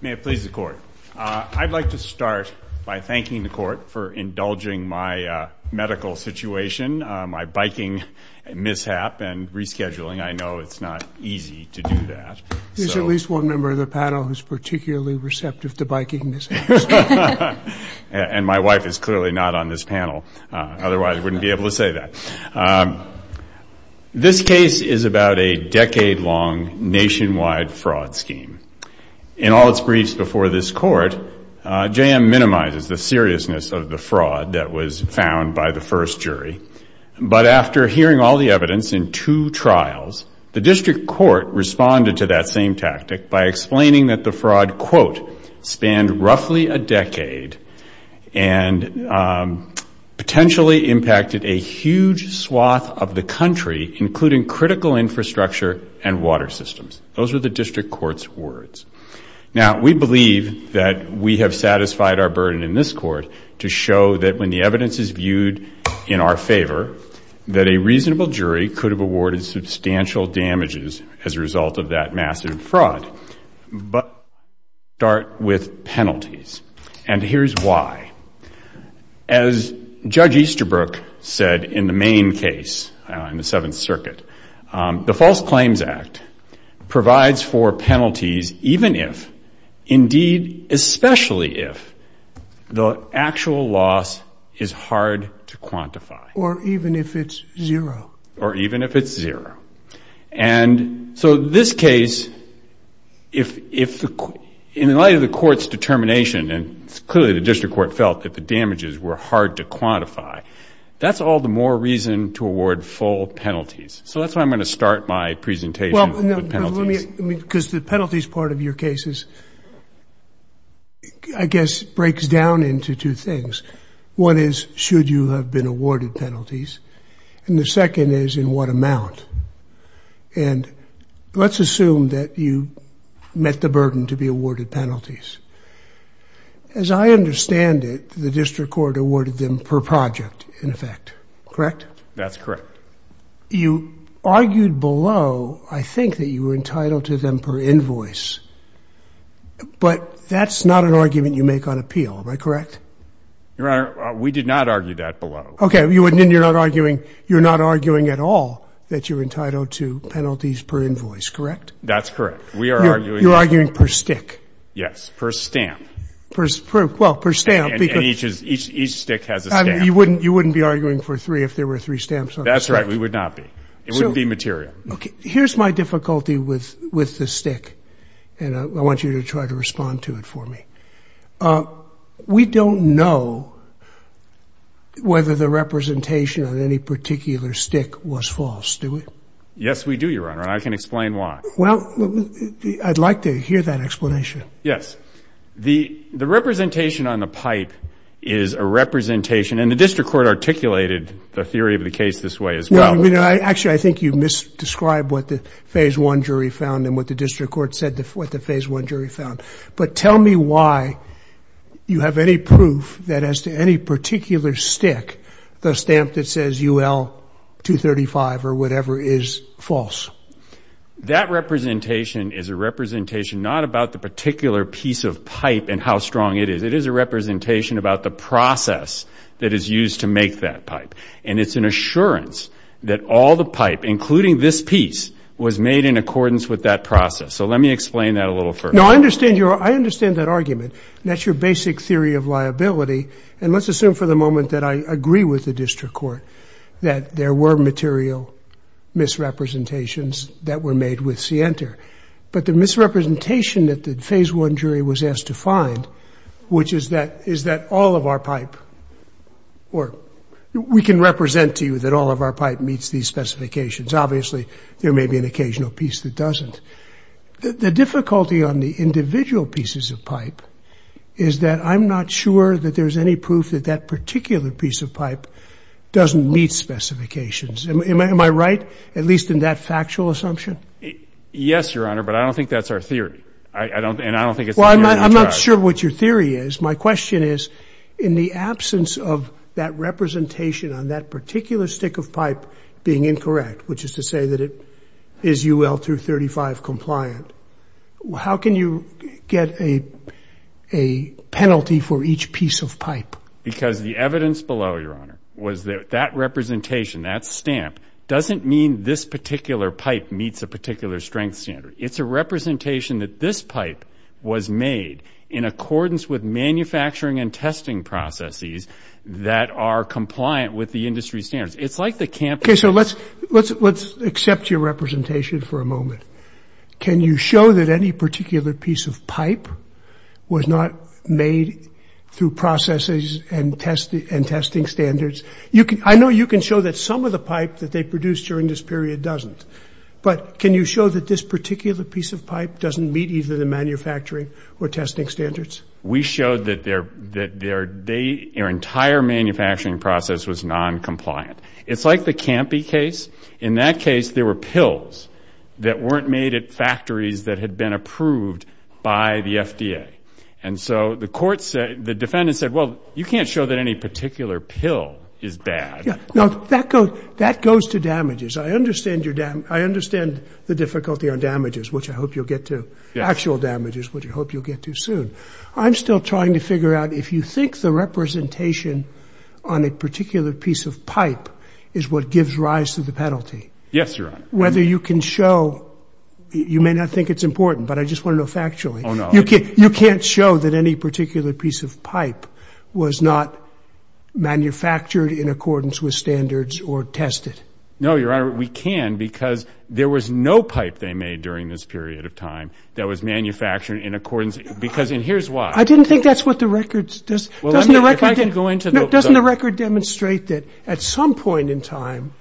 May it please the Court. I'd like to start by thanking the Court for indulging my medical situation, my biking mishap and rescheduling. I know it's not easy to do that. There's at least one member of the panel who's particularly receptive to biking mishaps. And my wife is clearly not on this panel, otherwise I wouldn't be able to say that. This case is about a decade-long nationwide fraud scheme. In all its briefs before this Court, J-M minimizes the seriousness of the fraud that was found by the first jury. But after hearing all the evidence in two trials, the District Court responded to that same tactic by explaining that the fraud quote, spanned roughly a decade and potentially impacted a huge swath of the country, including critical infrastructure and water systems. Those were the District Court's words. Now, we believe that we have satisfied our burden in this Court to show that when the evidence is viewed in our favor, that a reasonable jury could have awarded substantial damages as a result of that massive fraud. But we start with penalties. And here's why. As Judge Easterbrook said in the main case in the Seventh Circuit, the False Claims Act provides for penalties even if, indeed especially if, the actual loss is hard to quantify. Or even if it's zero. Or even if it's zero. And so this case, in light of the Court's determination, and clearly the District Court felt that the damages were hard to quantify, that's all the more reason to award full penalties. So that's why I'm going to start my presentation with penalties. Because the penalties part of your case, I guess, breaks down into two things. One is, should you have been awarded penalties? And the second is, in what amount? And let's assume that you met the burden to be awarded penalties. As I understand it, the District Court awarded them per project, in effect. Correct? That's correct. You argued below, I think, that you were entitled to them per invoice. But that's not an argument you make on appeal. Am I correct? Your Honor, we did not argue that below. Okay. You're not arguing at all that you're entitled to penalties per invoice. Correct? That's correct. You're arguing per stick. Yes. Per stamp. Well, per stamp. And each stick has a stamp. You wouldn't be arguing for three if there were three stamps on it. That's right. We would not be. It wouldn't be material. Okay. Here's my difficulty with the stick. And I want you to try to respond to it for me. We don't know whether the representation on any particular stick was false, do we? Yes, we do, Your Honor, and I can explain why. Well, I'd like to hear that explanation. Yes. The representation on the pipe is a representation, and the District Court articulated the theory of the case this way as well. Actually, I think you misdescribed what the Phase I jury found and what the District Court said what the Phase I jury found. But tell me why you have any proof that as to any particular stick, the stamp that says UL 235 or whatever is false. That representation is a representation not about the particular piece of pipe and how strong it is. It is a representation about the process that is used to make that pipe. And it's an assurance that all the pipe, including this piece, was made in accordance with that process. So let me explain that a little further. No, I understand that argument, and that's your basic theory of liability. And let's assume for the moment that I agree with the District Court that there were material misrepresentations that were made with Sienter. But the misrepresentation that the Phase I jury was asked to find, which is that all of our pipe or we can represent to you that all of our pipe meets these specifications. Obviously, there may be an occasional piece that doesn't. The difficulty on the individual pieces of pipe is that I'm not sure that there's any proof that that particular piece of pipe doesn't meet specifications. Am I right, at least in that factual assumption? Yes, Your Honor, but I don't think that's our theory. And I don't think it's the theory of the tribe. Well, I'm not sure what your theory is. My question is, in the absence of that representation on that particular stick of pipe being incorrect, which is to say that it is UL 235 compliant, how can you get a penalty for each piece of pipe? Because the evidence below, Your Honor, was that that representation, that stamp, doesn't mean this particular pipe meets a particular strength standard. It's a representation that this pipe was made in accordance with manufacturing and testing processes that are compliant with the industry standards. Okay, so let's accept your representation for a moment. Can you show that any particular piece of pipe was not made through processes and testing standards? I know you can show that some of the pipe that they produced during this period doesn't. But can you show that this particular piece of pipe doesn't meet either the manufacturing or testing standards? We showed that their entire manufacturing process was noncompliant. It's like the Campy case. In that case, there were pills that weren't made at factories that had been approved by the FDA. And so the defendant said, well, you can't show that any particular pill is bad. Now, that goes to damages. I understand the difficulty on damages, which I hope you'll get to, but I'm still trying to figure out if you think the representation on a particular piece of pipe is what gives rise to the penalty. Yes, Your Honor. Whether you can show, you may not think it's important, but I just want to know factually. Oh, no. You can't show that any particular piece of pipe was not manufactured in accordance with standards or tested. No, Your Honor, we can because there was no pipe they made during this period of time that was manufactured in accordance because, and here's why. I didn't think that's what the record does. Doesn't the record demonstrate that at some point in time,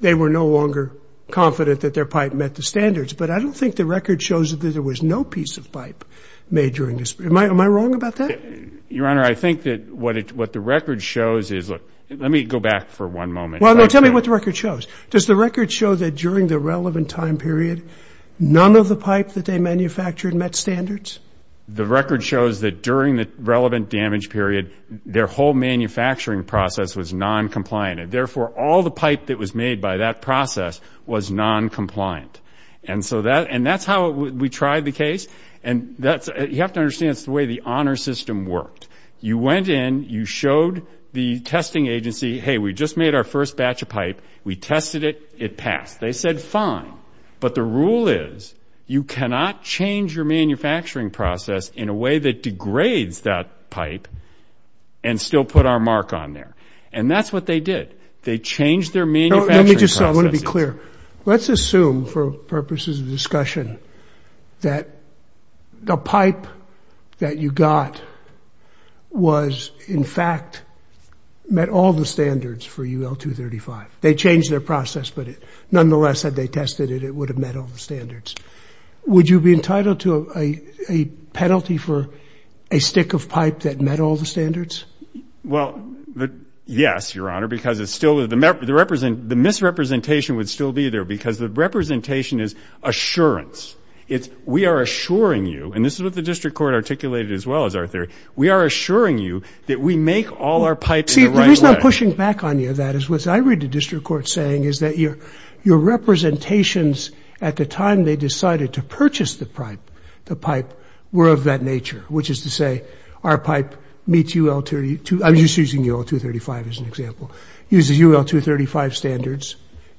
they were no longer confident that their pipe met the standards, but I don't think the record shows that there was no piece of pipe made during this period. Am I wrong about that? Your Honor, I think that what the record shows is, look, let me go back for one moment. Well, no, tell me what the record shows. Does the record show that during the relevant time period, none of the pipe that they manufactured met standards? The record shows that during the relevant damage period, their whole manufacturing process was noncompliant, and therefore all the pipe that was made by that process was noncompliant. And that's how we tried the case. You have to understand it's the way the honor system worked. You went in, you showed the testing agency, hey, we just made our first batch of pipe, we tested it, it passed. They said fine, but the rule is you cannot change your manufacturing process in a way that degrades that pipe and still put our mark on there. And that's what they did. They changed their manufacturing process. Let me just say, I want to be clear. Let's assume for purposes of discussion that the pipe that you got was, in fact, met all the standards for UL 235. They changed their process, but nonetheless, had they tested it, it would have met all the standards. Would you be entitled to a penalty for a stick of pipe that met all the standards? Well, yes, Your Honor, because the misrepresentation would still be there because the representation is assurance. We are assuring you, and this is what the district court articulated as well as our theory, we are assuring you that we make all our pipes in the right way. The reason I'm pushing back on you on that is what I read the district court saying is that your representations at the time they decided to purchase the pipe were of that nature, which is to say our pipe meets UL 235 as an example, uses UL 235 standards.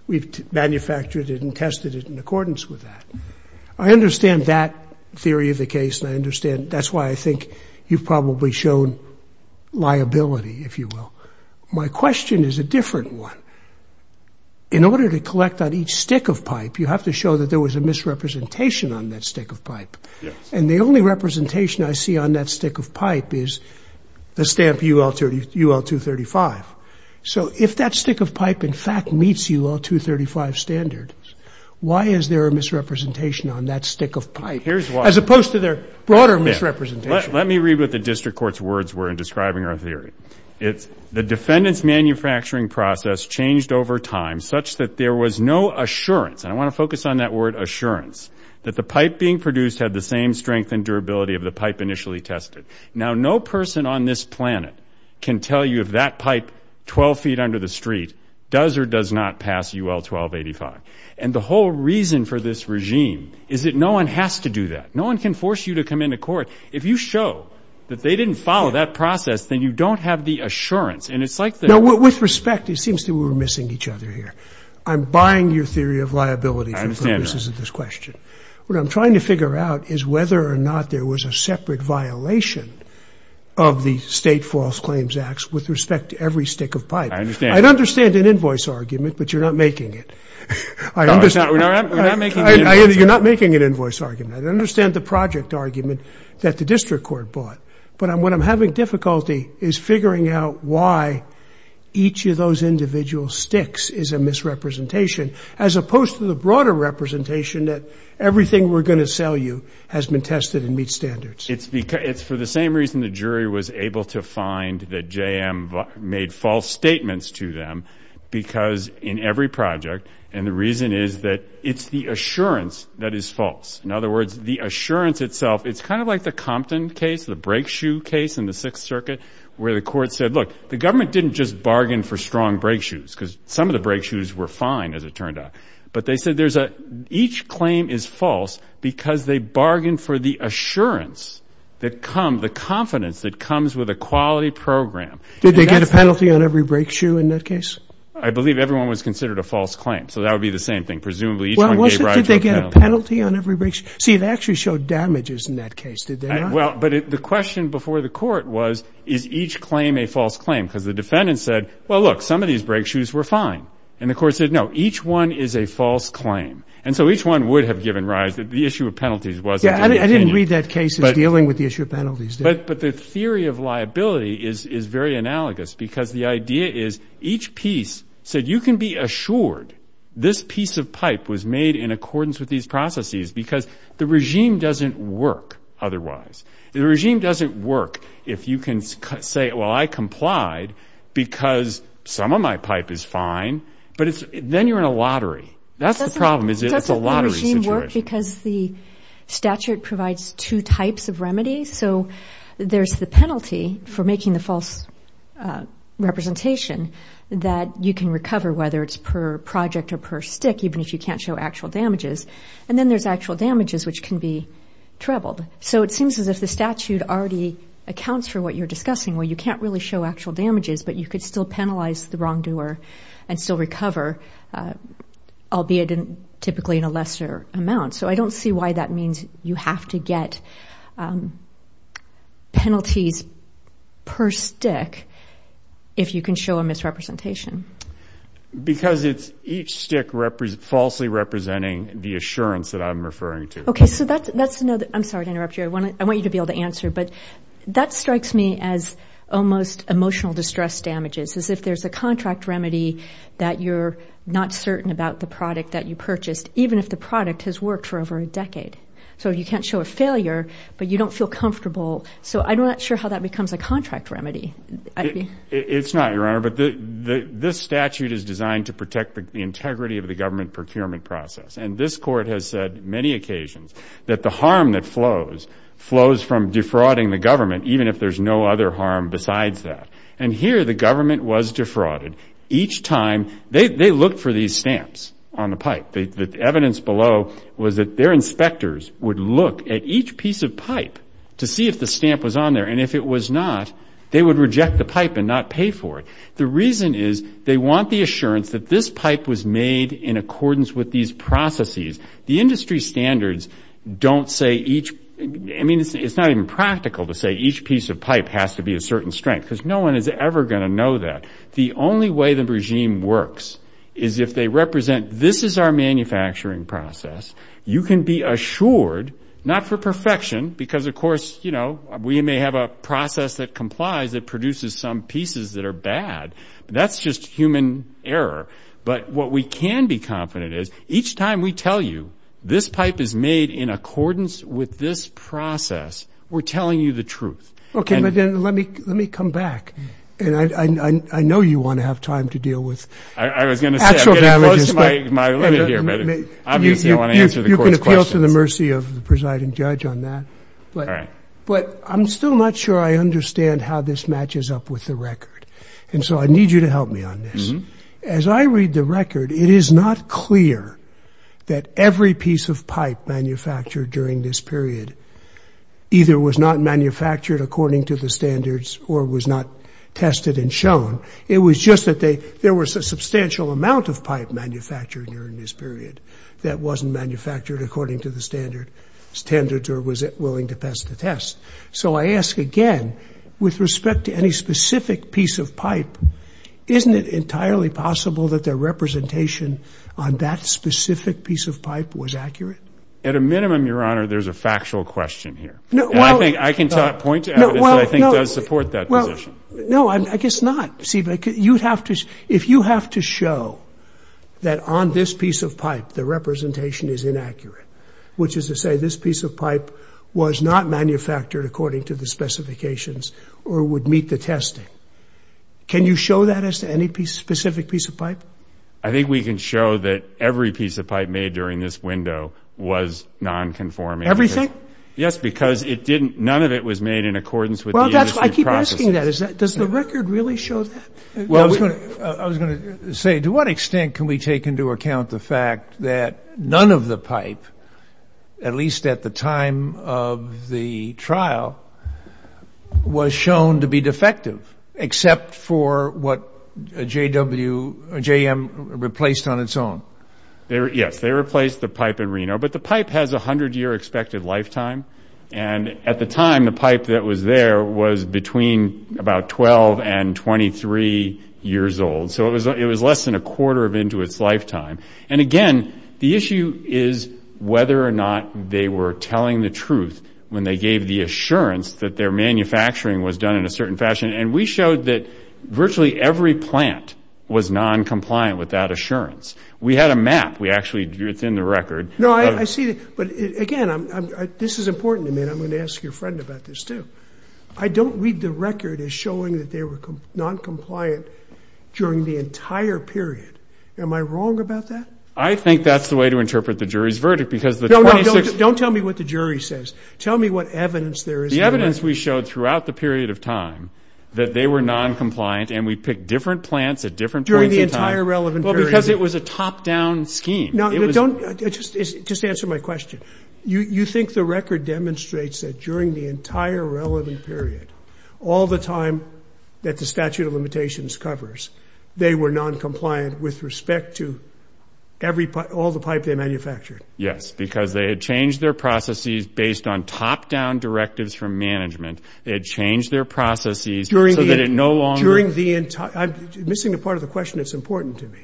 We've manufactured it and tested it in accordance with that. I understand that theory of the case, and I understand that's why I think you've probably shown liability, if you will. My question is a different one. In order to collect on each stick of pipe, you have to show that there was a misrepresentation on that stick of pipe. And the only representation I see on that stick of pipe is the stamp UL 235. So if that stick of pipe, in fact, meets UL 235 standards, why is there a misrepresentation on that stick of pipe as opposed to their broader misrepresentation? Let me read what the district court's words were in describing our theory. The defendant's manufacturing process changed over time such that there was no assurance, and I want to focus on that word assurance, that the pipe being produced had the same strength and durability of the pipe initially tested. Now, no person on this planet can tell you if that pipe 12 feet under the street does or does not pass UL 1285. And the whole reason for this regime is that no one has to do that. No one can force you to come into court. If you show that they didn't follow that process, then you don't have the assurance. And it's like the – Now, with respect, it seems that we're missing each other here. I'm buying your theory of liability for purposes of this question. What I'm trying to figure out is whether or not there was a separate violation of the State False Claims Acts with respect to every stick of pipe. I understand. I'd understand an invoice argument, but you're not making it. We're not making an invoice argument. You're not making an invoice argument. I understand the project argument that the district court bought. But what I'm having difficulty is figuring out why each of those individual sticks is a misrepresentation as opposed to the broader representation that everything we're going to sell you has been tested and meets standards. It's for the same reason the jury was able to find that JM made false statements to them because in every project, and the reason is that it's the assurance that is false. In other words, the assurance itself, it's kind of like the Compton case, the brake shoe case in the Sixth Circuit, where the court said, look, the government didn't just bargain for strong brake shoes because some of the brake shoes were fine, as it turned out. But they said each claim is false because they bargained for the assurance that comes, the confidence that comes with a quality program. Did they get a penalty on every brake shoe in that case? I believe everyone was considered a false claim. So that would be the same thing. Presumably each one gave rise to a penalty. Did they get a penalty on every brake shoe? See, it actually showed damages in that case, did they not? Well, but the question before the court was, is each claim a false claim? Because the defendant said, well, look, some of these brake shoes were fine. And the court said, no, each one is a false claim. And so each one would have given rise. The issue of penalties wasn't in the opinion. Yeah, I didn't read that case as dealing with the issue of penalties. But the theory of liability is very analogous because the idea is each piece said, you can be assured this piece of pipe was made in accordance with these processes because the regime doesn't work otherwise. The regime doesn't work if you can say, well, I complied because some of my pipe is fine. But then you're in a lottery. That's the problem is it's a lottery situation. Because the statute provides two types of remedies. So there's the penalty for making the false representation that you can recover, whether it's per project or per stick, even if you can't show actual damages. And then there's actual damages, which can be troubled. So it seems as if the statute already accounts for what you're discussing, where you can't really show actual damages, but you could still penalize the wrongdoer and still recover, albeit typically in a lesser amount. So I don't see why that means you have to get penalties per stick if you can show a misrepresentation. Because it's each stick falsely representing the assurance that I'm referring to. Okay, so that's another. I'm sorry to interrupt you. I want you to be able to answer. But that strikes me as almost emotional distress damages, as if there's a contract remedy that you're not certain about the product that you purchased, even if the product has worked for over a decade. So you can't show a failure, but you don't feel comfortable. So I'm not sure how that becomes a contract remedy. It's not, Your Honor. But this statute is designed to protect the integrity of the government procurement process. And this court has said many occasions that the harm that flows flows from defrauding the government, even if there's no other harm besides that. And here the government was defrauded. Each time they looked for these stamps on the pipe. The evidence below was that their inspectors would look at each piece of pipe to see if the stamp was on there. And if it was not, they would reject the pipe and not pay for it. The reason is they want the assurance that this pipe was made in accordance with these processes. The industry standards don't say each. I mean, it's not even practical to say each piece of pipe has to be a certain strength because no one is ever going to know that. The only way the regime works is if they represent this is our manufacturing process. You can be assured, not for perfection, because, of course, you know, we may have a process that complies that produces some pieces that are bad. That's just human error. But what we can be confident is each time we tell you this pipe is made in accordance with this process, we're telling you the truth. Okay. But then let me come back. And I know you want to have time to deal with actual damages. I was going to say, I'm getting close to my limit here, but obviously I want to answer the Court's questions. You can appeal to the mercy of the presiding judge on that. All right. But I'm still not sure I understand how this matches up with the record. And so I need you to help me on this. As I read the record, it is not clear that every piece of pipe manufactured during this period either was not manufactured according to the standards or was not tested and shown. It was just that there was a substantial amount of pipe manufactured during this period that wasn't manufactured according to the standards or was willing to pass the test. So I ask again, with respect to any specific piece of pipe, isn't it entirely possible that their representation on that specific piece of pipe was accurate? At a minimum, Your Honor, there's a factual question here. I can point to evidence that I think does support that position. No, I guess not. If you have to show that on this piece of pipe the representation is inaccurate, which is to say this piece of pipe was not manufactured according to the specifications or would meet the testing, can you show that as to any specific piece of pipe? I think we can show that every piece of pipe made during this window was nonconforming. Everything? Yes, because none of it was made in accordance with the industry processes. I keep asking that. Does the record really show that? I was going to say, to what extent can we take into account the fact that none of the pipe, at least at the time of the trial, was shown to be defective except for what JM replaced on its own? Yes, they replaced the pipe in Reno, but the pipe has a 100-year expected lifetime. And at the time, the pipe that was there was between about 12 and 23 years old. So it was less than a quarter of into its lifetime. And again, the issue is whether or not they were telling the truth when they gave the assurance that their manufacturing was done in a certain fashion. And we showed that virtually every plant was noncompliant with that assurance. We had a map. It's in the record. No, I see. But again, this is important. I'm going to ask your friend about this, too. I don't read the record as showing that they were noncompliant during the entire period. Am I wrong about that? I think that's the way to interpret the jury's verdict. No, no, don't tell me what the jury says. Tell me what evidence there is. The evidence we showed throughout the period of time that they were noncompliant, and we picked different plants at different points in time. During the entire relevant period? Well, because it was a top-down scheme. No, just answer my question. You think the record demonstrates that during the entire relevant period, all the time that the statute of limitations covers, they were noncompliant with respect to all the pipe they manufactured? Yes, because they had changed their processes based on top-down directives from management. They had changed their processes so that it no longer... During the entire... I'm missing the part of the question that's important to me.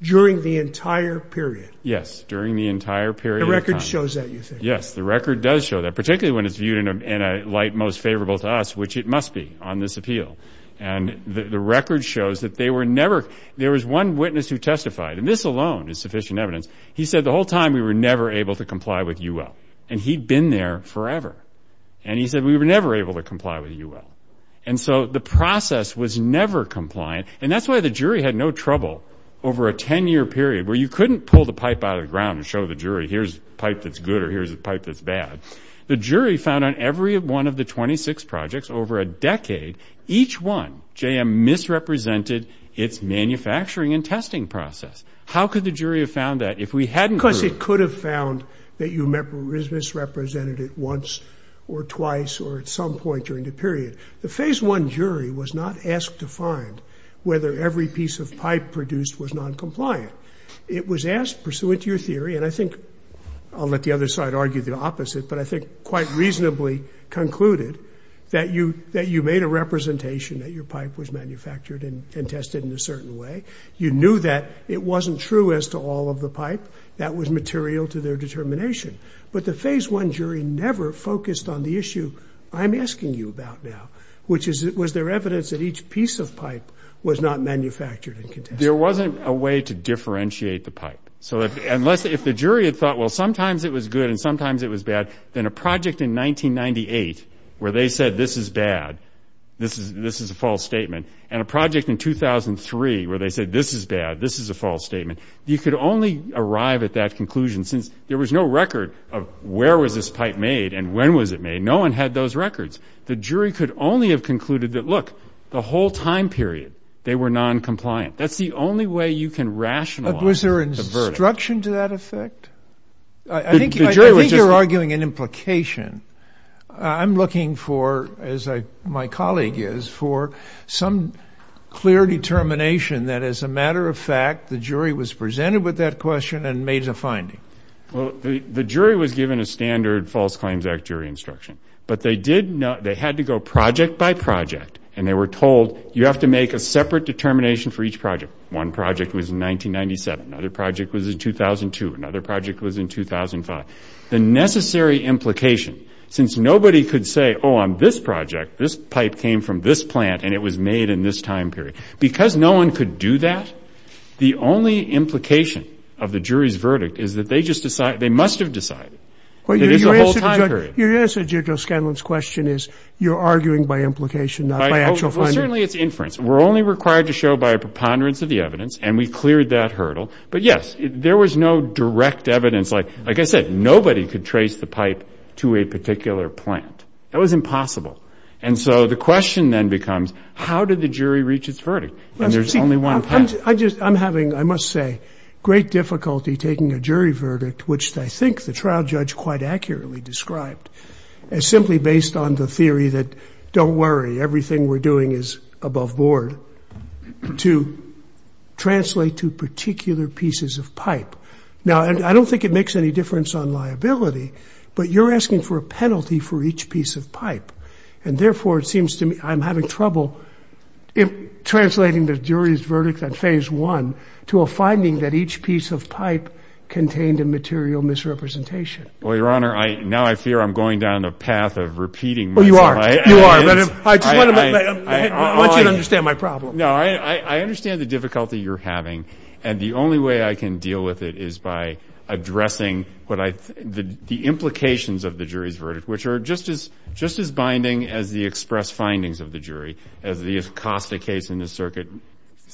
During the entire period? Yes, during the entire period of time. The record shows that, you think? Yes, the record does show that, particularly when it's viewed in a light most favorable to us, which it must be on this appeal. And the record shows that they were never... There was one witness who testified, and this alone is sufficient evidence. He said, the whole time, we were never able to comply with UL. And he'd been there forever. And he said, we were never able to comply with UL. And so the process was never compliant, and that's why the jury had no trouble over a 10-year period where you couldn't pull the pipe out of the ground and show the jury, here's a pipe that's good or here's a pipe that's bad. The jury found on every one of the 26 projects over a decade, each one, JM misrepresented its manufacturing and testing process. How could the jury have found that if we hadn't heard? Because it could have found that you misrepresented it once or twice or at some point during the period. The Phase I jury was not asked to find whether every piece of pipe produced was noncompliant. It was asked, pursuant to your theory, and I think I'll let the other side argue the opposite, but I think quite reasonably concluded that you made a representation that your pipe was manufactured and tested in a certain way. You knew that it wasn't true as to all of the pipe. That was material to their determination. But the Phase I jury never focused on the issue I'm asking you about now, which was there evidence that each piece of pipe was not manufactured and tested. There wasn't a way to differentiate the pipe. So if the jury had thought, well, sometimes it was good and sometimes it was bad, then a project in 1998 where they said this is bad, this is a false statement, and a project in 2003 where they said this is bad, this is a false statement, you could only arrive at that conclusion since there was no record of where was this pipe made and when was it made. No one had those records. The jury could only have concluded that, look, the whole time period they were noncompliant. That's the only way you can rationalize the verdict. But was there instruction to that effect? I think you're arguing an implication. I'm looking for, as my colleague is, for some clear determination that, as a matter of fact, the jury was presented with that question and made a finding. Well, the jury was given a standard False Claims Act jury instruction. But they had to go project by project, and they were told, you have to make a separate determination for each project. One project was in 1997. Another project was in 2002. Another project was in 2005. The necessary implication, since nobody could say, oh, on this project, this pipe came from this plant and it was made in this time period, because no one could do that, the only implication of the jury's verdict is that they just decided, they must have decided, that it is a whole time period. Your answer, Judge O'Scanlan's question is you're arguing by implication, not by actual finding. Well, certainly it's inference. We're only required to show by a preponderance of the evidence, and we cleared that hurdle. But, yes, there was no direct evidence. Like I said, nobody could trace the pipe to a particular plant. That was impossible. And so the question then becomes, how did the jury reach its verdict? And there's only one path. I'm having, I must say, great difficulty taking a jury verdict, which I think the trial judge quite accurately described, as simply based on the theory that, don't worry, everything we're doing is above board, to translate to particular pieces of pipe. Now, I don't think it makes any difference on liability, but you're asking for a penalty for each piece of pipe. And, therefore, it seems to me I'm having trouble translating the jury's verdict at Phase 1 to a finding that each piece of pipe contained a material misrepresentation. Well, Your Honor, now I fear I'm going down the path of repeating myself. Oh, you are. You are. I want you to understand my problem. No, I understand the difficulty you're having, and the only way I can deal with it is by addressing the implications of the jury's verdict, which are just as binding as the express findings of the jury, as the Acosta case in this circuit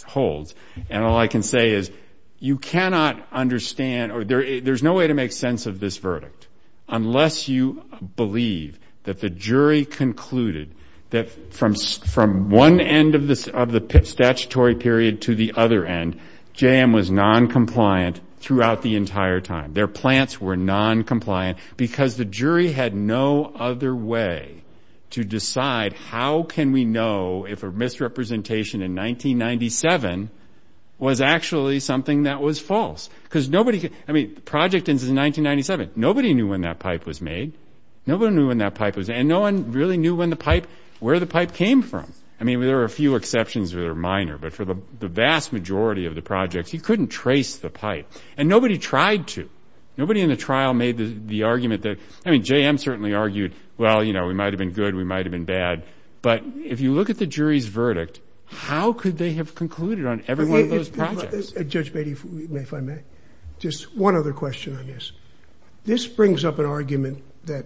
holds. And all I can say is you cannot understand or there's no way to make sense of this verdict unless you believe that the jury concluded that from one end of the statutory period to the other end, JM was noncompliant throughout the entire time. Their plants were noncompliant, because the jury had no other way to decide how can we know if a misrepresentation in 1997 was actually something that was false. I mean, the project ends in 1997. Nobody knew when that pipe was made. Nobody knew when that pipe was made, and no one really knew where the pipe came from. I mean, there are a few exceptions that are minor, but for the vast majority of the projects, you couldn't trace the pipe, and nobody tried to. Nobody in the trial made the argument that, I mean, JM certainly argued, well, you know, we might have been good, we might have been bad, but if you look at the jury's verdict, how could they have concluded on every one of those projects? Judge Beatty, if I may, just one other question on this. This brings up an argument that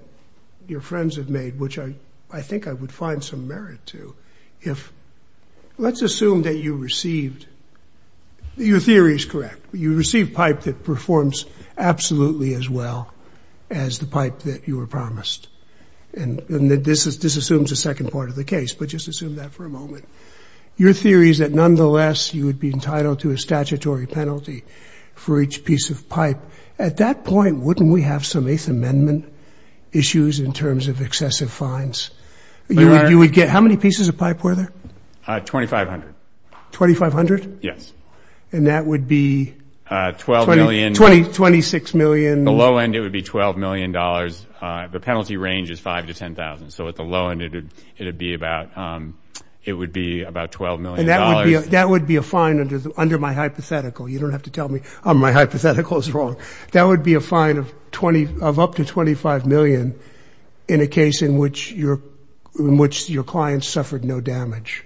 your friends have made, which I think I would find some merit to. Let's assume that you received – your theory is correct. You received pipe that performs absolutely as well as the pipe that you were promised. And this assumes a second part of the case, but just assume that for a moment. Your theory is that, nonetheless, you would be entitled to a statutory penalty for each piece of pipe. At that point, wouldn't we have some Eighth Amendment issues in terms of excessive fines? You would get – how many pieces of pipe were there? 2,500. 2,500? Yes. And that would be? $12 million. $26 million. The low end, it would be $12 million. The penalty range is $5,000 to $10,000, so at the low end, it would be about $12 million. And that would be a fine under my hypothetical. You don't have to tell me my hypothetical is wrong. That would be a fine of up to $25 million in a case in which your client suffered no damage.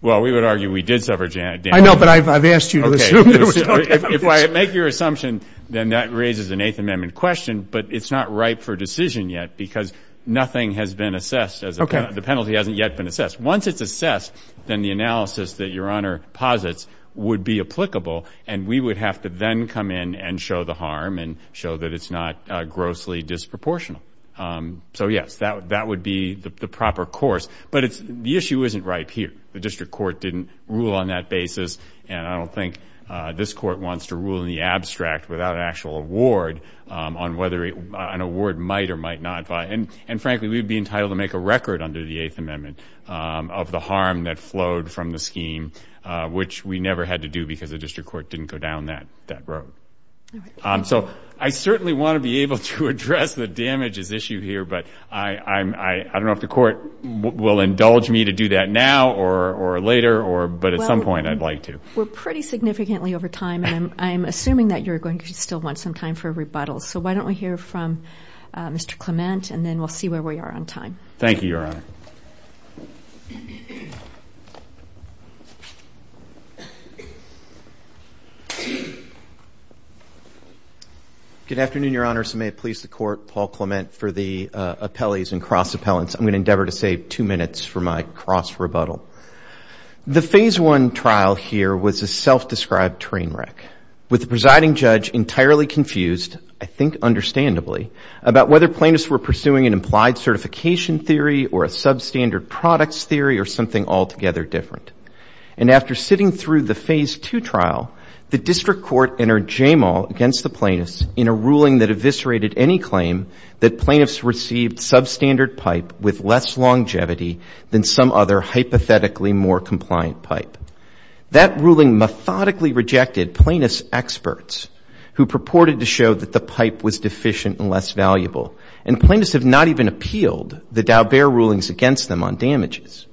Well, we would argue we did suffer damage. I know, but I've asked you to assume. If I make your assumption, then that raises an Eighth Amendment question, but it's not ripe for decision yet because nothing has been assessed. The penalty hasn't yet been assessed. Once it's assessed, then the analysis that Your Honor posits would be applicable, and we would have to then come in and show the harm and show that it's not grossly disproportional. So, yes, that would be the proper course. But the issue isn't ripe here. The district court didn't rule on that basis, and I don't think this court wants to rule in the abstract without an actual award on whether an award might or might not. And, frankly, we would be entitled to make a record under the Eighth Amendment of the harm that flowed from the scheme, which we never had to do because the district court didn't go down that road. So I certainly want to be able to address the damages issue here, but I don't know if the court will indulge me to do that now or later, but at some point I'd like to. Well, we're pretty significantly over time, and I'm assuming that you're going to still want some time for rebuttals. So why don't we hear from Mr. Clement, and then we'll see where we are on time. Thank you, Your Honor. Good afternoon, Your Honors. May it please the Court, Paul Clement for the appellees and cross-appellants. I'm going to endeavor to save two minutes for my cross-rebuttal. The Phase I trial here was a self-described train wreck, with the presiding judge entirely confused, I think understandably, about whether plaintiffs were pursuing an implied certification theory or a substandard products theory or something altogether different. And after sitting through the Phase II trial, the district court entered JAMAL against the plaintiffs in a ruling that eviscerated any claim that plaintiffs received substandard pipe with less longevity than some other hypothetically more compliant pipe. That ruling methodically rejected plaintiffs' experts, who purported to show that the pipe was deficient and less valuable. And plaintiffs have not even appealed the Daubert rulings against them on damages.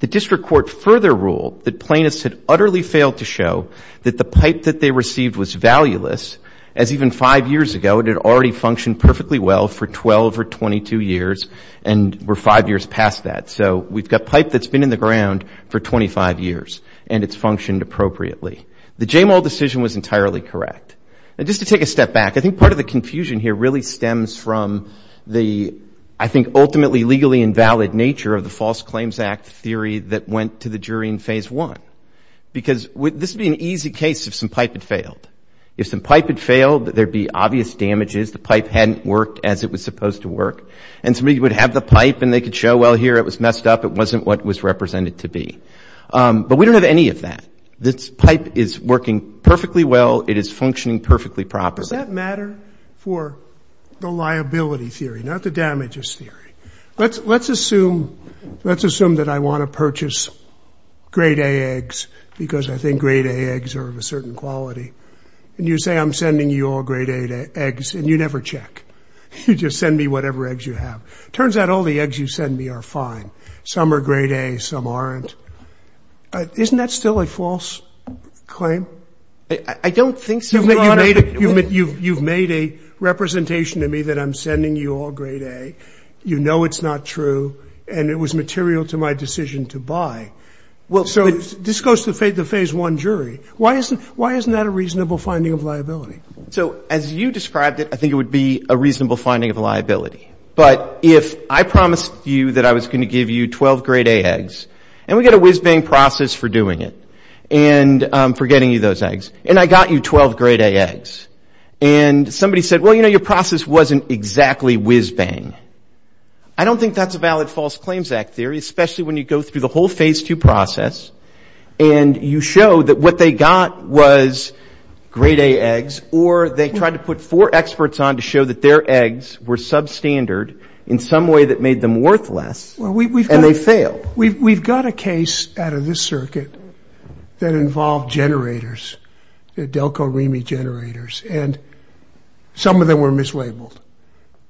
The district court further ruled that plaintiffs had utterly failed to show that the pipe that they received was valueless, as even five years ago it had already functioned perfectly well for 12 or 22 years and we're five years past that. So we've got pipe that's been in the ground for 25 years, and it's functioned appropriately. The JAMAL decision was entirely correct. And just to take a step back, I think part of the confusion here really stems from the, I think, ultimately legally invalid nature of the False Claims Act theory that went to the jury in Phase I. Because this would be an easy case if some pipe had failed. If some pipe had failed, there'd be obvious damages. The pipe hadn't worked as it was supposed to work. And somebody would have the pipe, and they could show, well, here, it was messed up. It wasn't what it was represented to be. But we don't have any of that. This pipe is working perfectly well. It is functioning perfectly properly. Does that matter for the liability theory, not the damages theory? Let's assume that I want to purchase Grade A eggs because I think Grade A eggs are of a certain quality. And you say I'm sending you all Grade A eggs, and you never check. You just send me whatever eggs you have. It turns out all the eggs you send me are fine. Some are Grade A. Some aren't. Isn't that still a false claim? I don't think so, Your Honor. You've made a representation to me that I'm sending you all Grade A. You know it's not true. And it was material to my decision to buy. So this goes to the Phase I jury. Why isn't that a reasonable finding of liability? So as you described it, I think it would be a reasonable finding of liability. But if I promised you that I was going to give you 12 Grade A eggs, and we get a whiz-bang process for doing it and for getting you those eggs, and I got you 12 Grade A eggs, and somebody said, well, you know, your process wasn't exactly whiz-bang. I don't think that's a valid false claims act theory, especially when you go through the whole Phase II process, and you show that what they got was Grade A eggs, or they tried to put four experts on to show that their eggs were substandard in some way that made them worthless, and they failed. We've got a case out of this circuit that involved generators, the Delco-Remy generators, and some of them were mislabeled.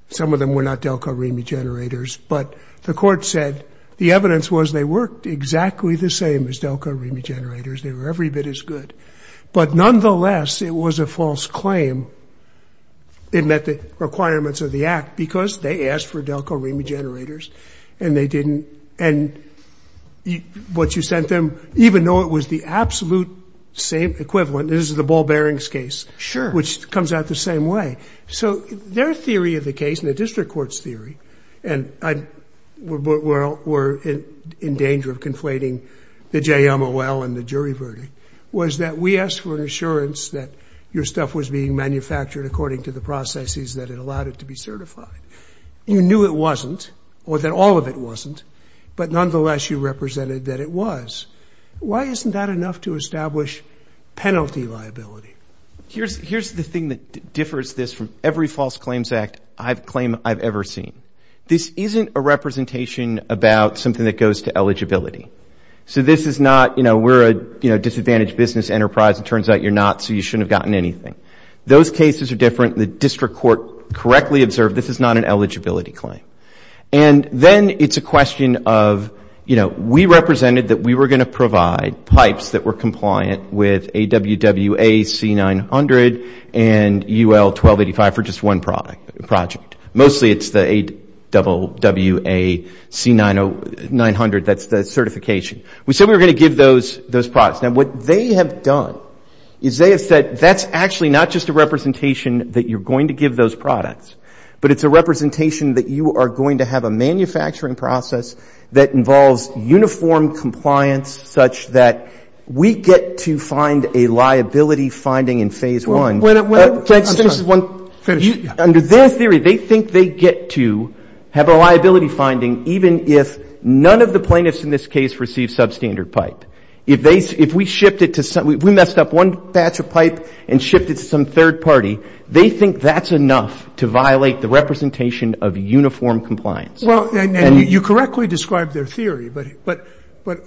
Some of them were not Delco-Remy generators, but the court said the evidence was they worked exactly the same as Delco-Remy generators. They were every bit as good. But nonetheless, it was a false claim in that the requirements of the act, because they asked for Delco-Remy generators, and they didn't, and what you sent them, even though it was the absolute same equivalent, this is the ball bearings case, which comes out the same way. So their theory of the case, and the district court's theory, and we're in danger of conflating the JMOL and the jury verdict, was that we asked for an assurance that your stuff was being manufactured according to the processes that had allowed it to be certified. You knew it wasn't, or that all of it wasn't, but nonetheless you represented that it was. Why isn't that enough to establish penalty liability? Here's the thing that differs this from every false claims act claim I've ever seen. This isn't a representation about something that goes to eligibility. So this is not, you know, we're a disadvantaged business enterprise. It turns out you're not, so you shouldn't have gotten anything. Those cases are different. The district court correctly observed this is not an eligibility claim. And then it's a question of, you know, we represented that we were going to provide pipes that were compliant with AWWA C900 and UL 1285 for just one project. Mostly it's the AWWA C900, that's the certification. We said we were going to give those products. Now, what they have done is they have said that's actually not just a representation that you're going to give those products, but it's a representation that you are going to have a manufacturing process that involves uniform compliance such that we get to find a liability finding in phase one. Under their theory, they think they get to have a liability finding even if none of the plaintiffs in this case receive substandard pipe. If we shipped it to some, we messed up one batch of pipe and shipped it to some third party, they think that's enough to violate the representation of uniform compliance. Well, and you correctly described their theory, but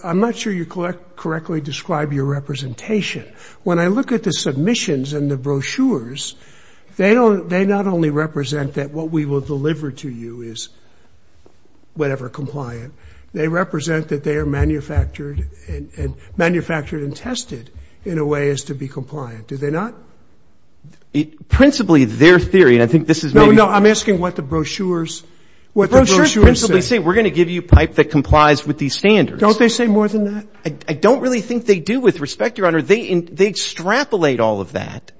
I'm not sure you correctly described your representation. When I look at the submissions and the brochures, they not only represent that what we will deliver to you is whatever compliant, they represent that they are manufactured and tested in a way as to be compliant. Do they not? Principally, their theory, and I think this is maybe — No, no. I'm asking what the brochures say. The brochures principally say we're going to give you pipe that complies with these standards. Don't they say more than that? I don't really think they do. With respect, Your Honor, they extrapolate all of that,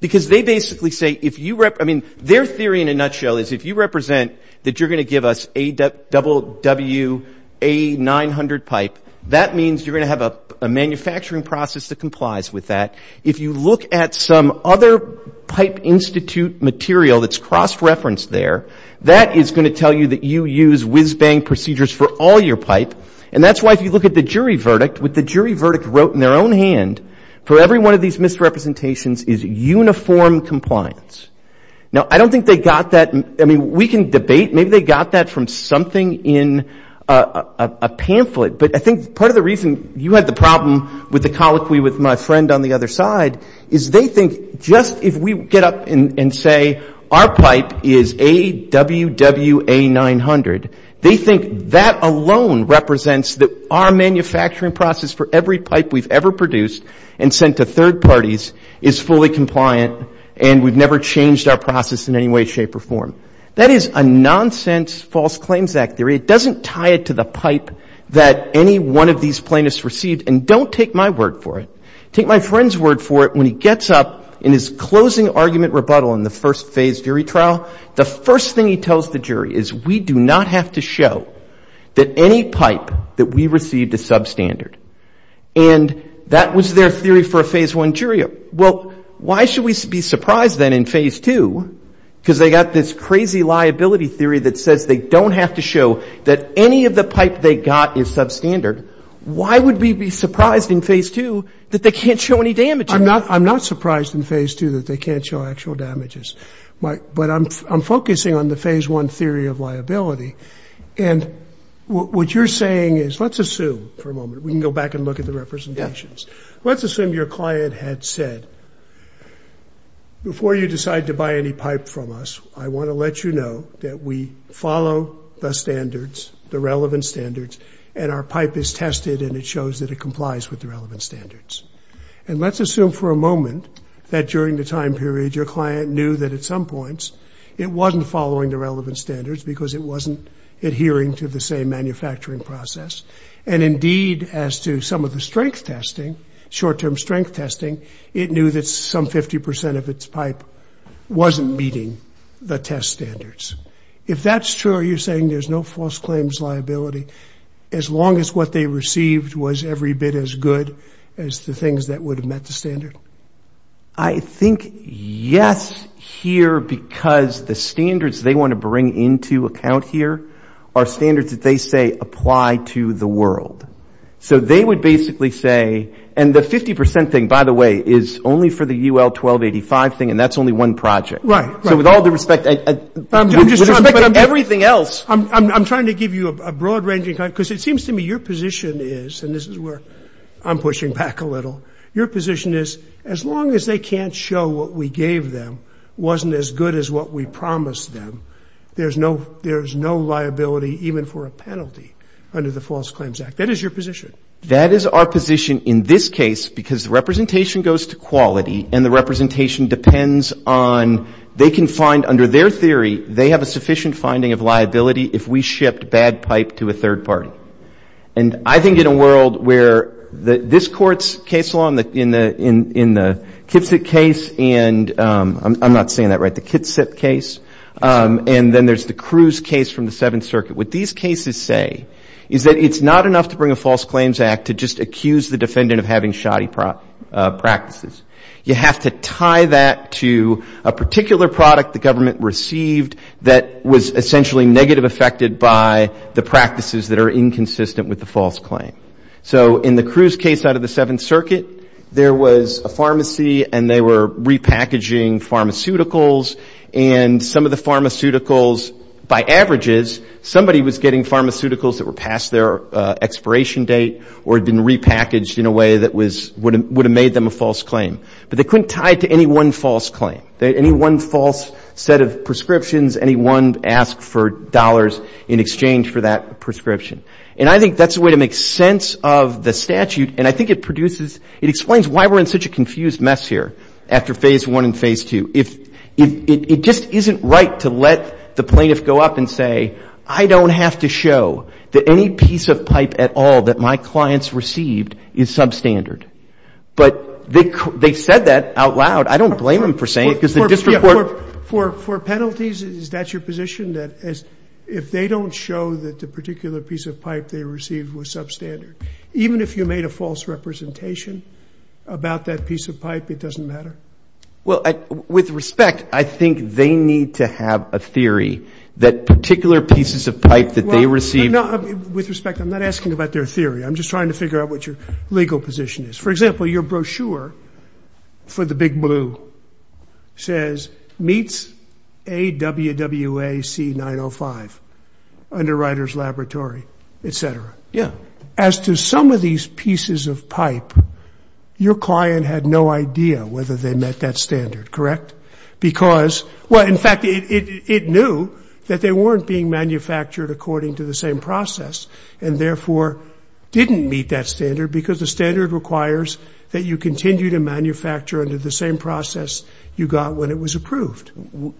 because they basically say if you — I mean, their theory in a nutshell is if you represent that you're going to give us AWA 900 pipe, that means you're going to have a manufacturing process that complies with that. If you look at some other pipe institute material that's cross-referenced there, that is going to tell you that you use whiz-bang procedures for all your pipe. And that's why if you look at the jury verdict, what the jury verdict wrote in their own hand for every one of these misrepresentations is uniform compliance. Now, I don't think they got that. I mean, we can debate. Maybe they got that from something in a pamphlet. But I think part of the reason you had the problem with the colloquy with my friend on the other side is they think just if we get up and say our pipe is AWWA 900, they think that alone represents that our manufacturing process for every pipe we've ever produced and sent to third parties is fully compliant and we've never changed our process in any way, shape, or form. That is a nonsense false claims act theory. It doesn't tie it to the pipe that any one of these plaintiffs received. And don't take my word for it. Take my friend's word for it. When he gets up in his closing argument rebuttal in the first phase jury trial, the first thing he tells the jury is we do not have to show that any pipe that we received is substandard. And that was their theory for a phase one jury. Well, why should we be surprised then in phase two because they got this crazy liability theory that says they don't have to show that any of the pipe they got is substandard. Why would we be surprised in phase two that they can't show any damage? I'm not surprised in phase two that they can't show actual damages. But I'm focusing on the phase one theory of liability. And what you're saying is, let's assume for a moment. We can go back and look at the representations. Let's assume your client had said, before you decide to buy any pipe from us, I want to let you know that we follow the standards, the relevant standards, and our pipe is tested and it shows that it complies with the relevant standards. And let's assume for a moment that during the time period, your client knew that at some points it wasn't following the relevant standards because it wasn't adhering to the same manufacturing process. And indeed, as to some of the strength testing, short-term strength testing, it knew that some 50 percent of its pipe wasn't meeting the test standards. If that's true, you're saying there's no false claims liability as long as what they received was every bit as good as the things that would have met the standard? I think yes here because the standards they want to bring into account here are standards that they say apply to the world. So they would basically say, and the 50 percent thing, by the way, is only for the UL 1285 thing, and that's only one project. Right. So with all due respect, with respect to everything else. I'm trying to give you a broad range because it seems to me your position is, and this is where I'm pushing back a little, your position is as long as they can't show what we gave them wasn't as good as what we promised them, there's no liability even for a penalty under the False Claims Act. That is your position. That is our position in this case because the representation goes to quality and the representation depends on they can find under their theory they have a sufficient finding of liability if we shipped bad pipe to a third party. And I think in a world where this Court's case law in the Kitsap case, and I'm not saying that right, the Kitsap case, and then there's the Cruz case from the Seventh Circuit, what these cases say is that it's not enough to bring a False Claims Act to just accuse the defendant of having shoddy practices. You have to tie that to a particular product the government received that was essentially negative affected by the practices that are inconsistent with the False Claim. So in the Cruz case out of the Seventh Circuit, there was a pharmacy and they were repackaging pharmaceuticals and some of the pharmaceuticals, by averages, somebody was getting pharmaceuticals that were past their expiration date or had been repackaged in a way that would have made them a False Claim. But they couldn't tie it to any one False Claim. Any one false set of prescriptions, any one ask for dollars in exchange for that prescription. And I think that's the way to make sense of the statute and I think it produces, it explains why we're in such a confused mess here after Phase I and Phase II. It just isn't right to let the plaintiff go up and say, I don't have to show that any piece of pipe at all that my clients received is substandard. But they said that out loud. I don't blame them for saying it because the district court... For penalties, is that your position? That if they don't show that the particular piece of pipe they received was substandard? Even if you made a false representation about that piece of pipe, it doesn't matter? Well, with respect, I think they need to have a theory that particular pieces of pipe that they received... With respect, I'm not asking about their theory. I'm just trying to figure out what your legal position is. For example, your brochure for the Big Blue says, meets AWWA C905, Underwriters Laboratory, et cetera. Yeah. As to some of these pieces of pipe, your client had no idea whether they met that standard, correct? Because, well, in fact, it knew that they weren't being manufactured according to the same process, and therefore didn't meet that standard because the standard requires that you continue to manufacture under the same process you got when it was approved.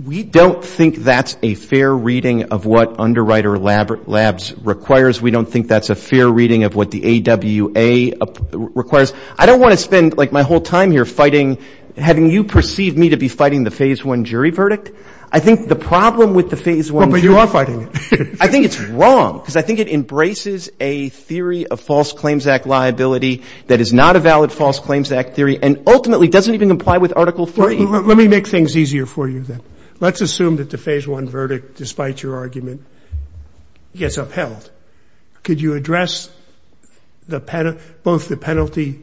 We don't think that's a fair reading of what Underwriter Labs requires. We don't think that's a fair reading of what the AWA requires. I don't want to spend, like, my whole time here fighting, having you perceive me to be fighting the Phase I jury verdict. I think the problem with the Phase I jury... Well, but you are fighting it. I think it's wrong because I think it embraces a theory of false claims act liability that is not a valid false claims act theory and ultimately doesn't even comply with Article III. Let me make things easier for you, then. Let's assume that the Phase I verdict, despite your argument, gets upheld. Could you address both the penalty,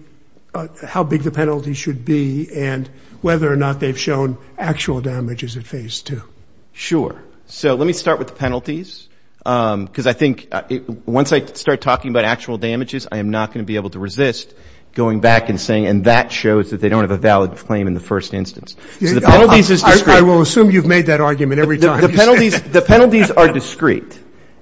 how big the penalty should be, and whether or not they've shown actual damages at Phase II? Sure. So let me start with the penalties because I think once I start talking about actual damages, I am not going to be able to resist going back and saying, and that shows that they don't have a valid claim in the first instance. So the penalties is discrete. I will assume you've made that argument every time. The penalties are discrete.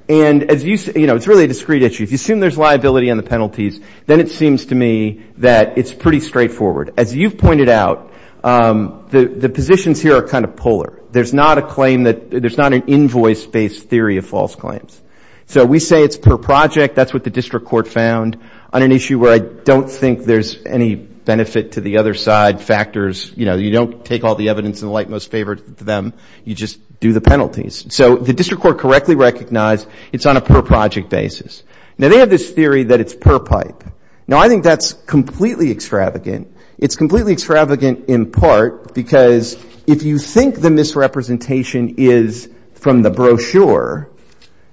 And, you know, it's really a discrete issue. If you assume there's liability on the penalties, then it seems to me that it's pretty straightforward. As you've pointed out, the positions here are kind of polar. There's not an invoice-based theory of false claims. So we say it's per project. That's what the district court found on an issue where I don't think there's any benefit to the other side factors. You know, you don't take all the evidence in the light most favor to them. You just do the penalties. So the district court correctly recognized it's on a per project basis. Now, they have this theory that it's per pipe. Now, I think that's completely extravagant. It's completely extravagant in part because if you think the misrepresentation is from the brochure,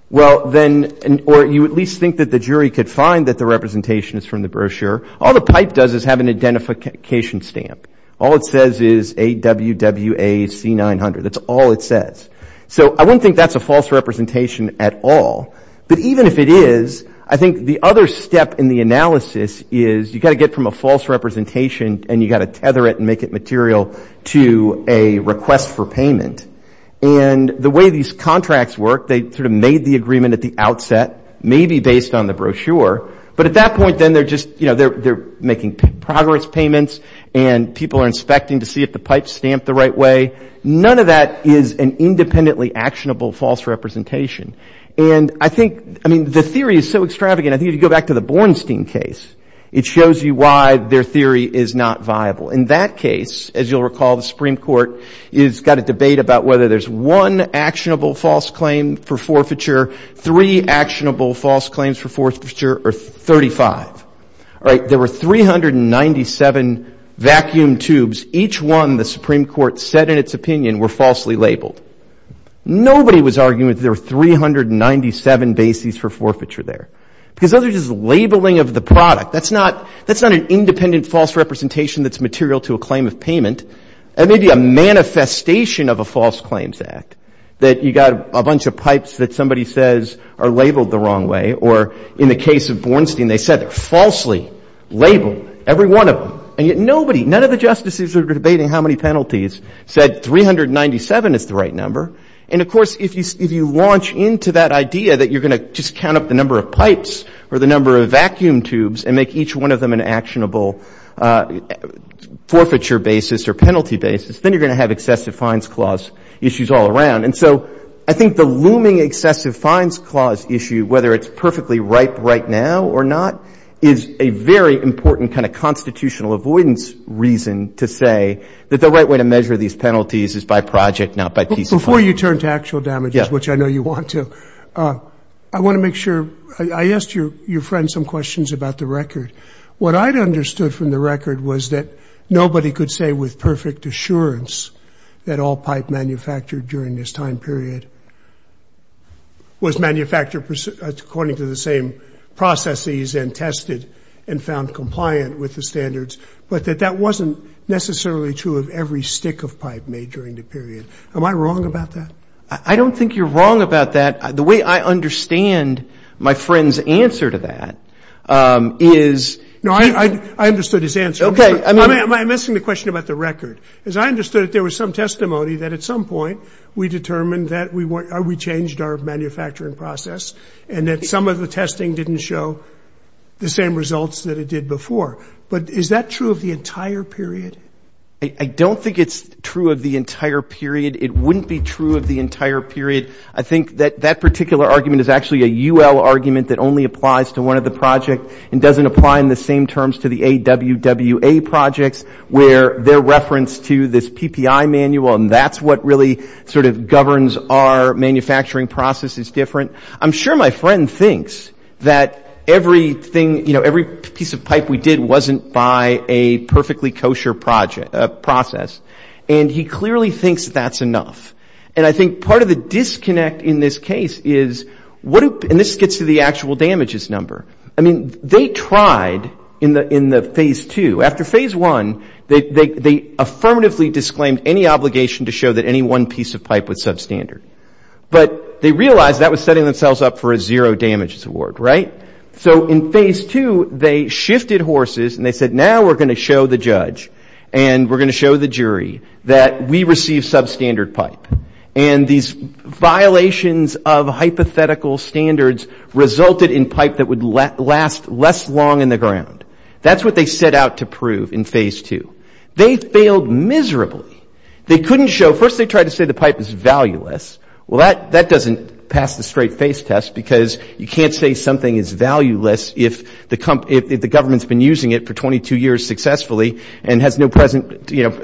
well, then, or you at least think that the jury could find that the representation is from the brochure, all the pipe does is have an identification stamp. All it says is AWWAC900. That's all it says. So I wouldn't think that's a false representation at all. But even if it is, I think the other step in the analysis is you've got to get from a false representation and you've got to tether it and make it material to a request for payment. And the way these contracts work, they sort of made the agreement at the outset, maybe based on the brochure. But at that point, then, they're just, you know, they're making progress payments and people are inspecting to see if the pipe's stamped the right way. None of that is an independently actionable false representation. And I think, I mean, the theory is so extravagant, I think if you go back to the Bornstein case, it shows you why their theory is not viable. In that case, as you'll recall, the Supreme Court has got a debate about whether there's one actionable false claim for forfeiture, three actionable false claims for forfeiture, or 35. All right, there were 397 vacuum tubes. Each one, the Supreme Court said in its opinion, were falsely labeled. Nobody was arguing that there were 397 bases for forfeiture there. Because those are just labeling of the product. That's not an independent false representation that's material to a claim of payment. That may be a manifestation of a false claims act, that you've got a bunch of pipes that somebody says are labeled the wrong way. Or in the case of Bornstein, they said they're falsely labeled, every one of them. And yet nobody, none of the justices who were debating how many penalties said 397 is the right number. And, of course, if you launch into that idea that you're going to just count up the number of pipes or the number of vacuum tubes and make each one of them an actionable forfeiture basis or penalty basis, then you're going to have excessive fines clause issues all around. And so I think the looming excessive fines clause issue, whether it's perfectly ripe right now or not, is a very important kind of constitutional avoidance reason to say that the right way to measure these penalties is by project, not by piece of pipe. Before you turn to actual damages, which I know you want to, I want to make sure. I asked your friend some questions about the record. What I'd understood from the record was that nobody could say with perfect assurance that all pipe manufactured during this time period was manufactured according to the same processes and tested and found compliant with the standards, but that that wasn't necessarily true of every stick of pipe made during the period. Am I wrong about that? I don't think you're wrong about that. The way I understand my friend's answer to that is he – No, I understood his answer. Okay. I'm asking the question about the record. As I understood it, there was some testimony that at some point we determined that we changed our manufacturing process and that some of the testing didn't show the same results that it did before. But is that true of the entire period? I don't think it's true of the entire period. It wouldn't be true of the entire period. I think that that particular argument is actually a UL argument that only applies to one of the project and doesn't apply in the same terms to the AWWA projects where they're referenced to this PPI manual and that's what really sort of governs our manufacturing processes different. I'm sure my friend thinks that everything – you know, every piece of pipe we did wasn't by a perfectly kosher process. And he clearly thinks that that's enough. And I think part of the disconnect in this case is – and this gets to the actual damages number. I mean, they tried in the phase two. After phase one, they affirmatively disclaimed any obligation to show that any one piece of pipe was substandard. But they realized that was setting themselves up for a zero damages award, right? So in phase two, they shifted horses and they said, now we're going to show the judge and we're going to show the jury that we receive substandard pipe. And these violations of hypothetical standards resulted in pipe that would last less long in the ground. That's what they set out to prove in phase two. They failed miserably. They couldn't show – first they tried to say the pipe is valueless. Well, that doesn't pass the straight face test because you can't say something is valueless if the government's been using it for 22 years successfully and has no present, you know,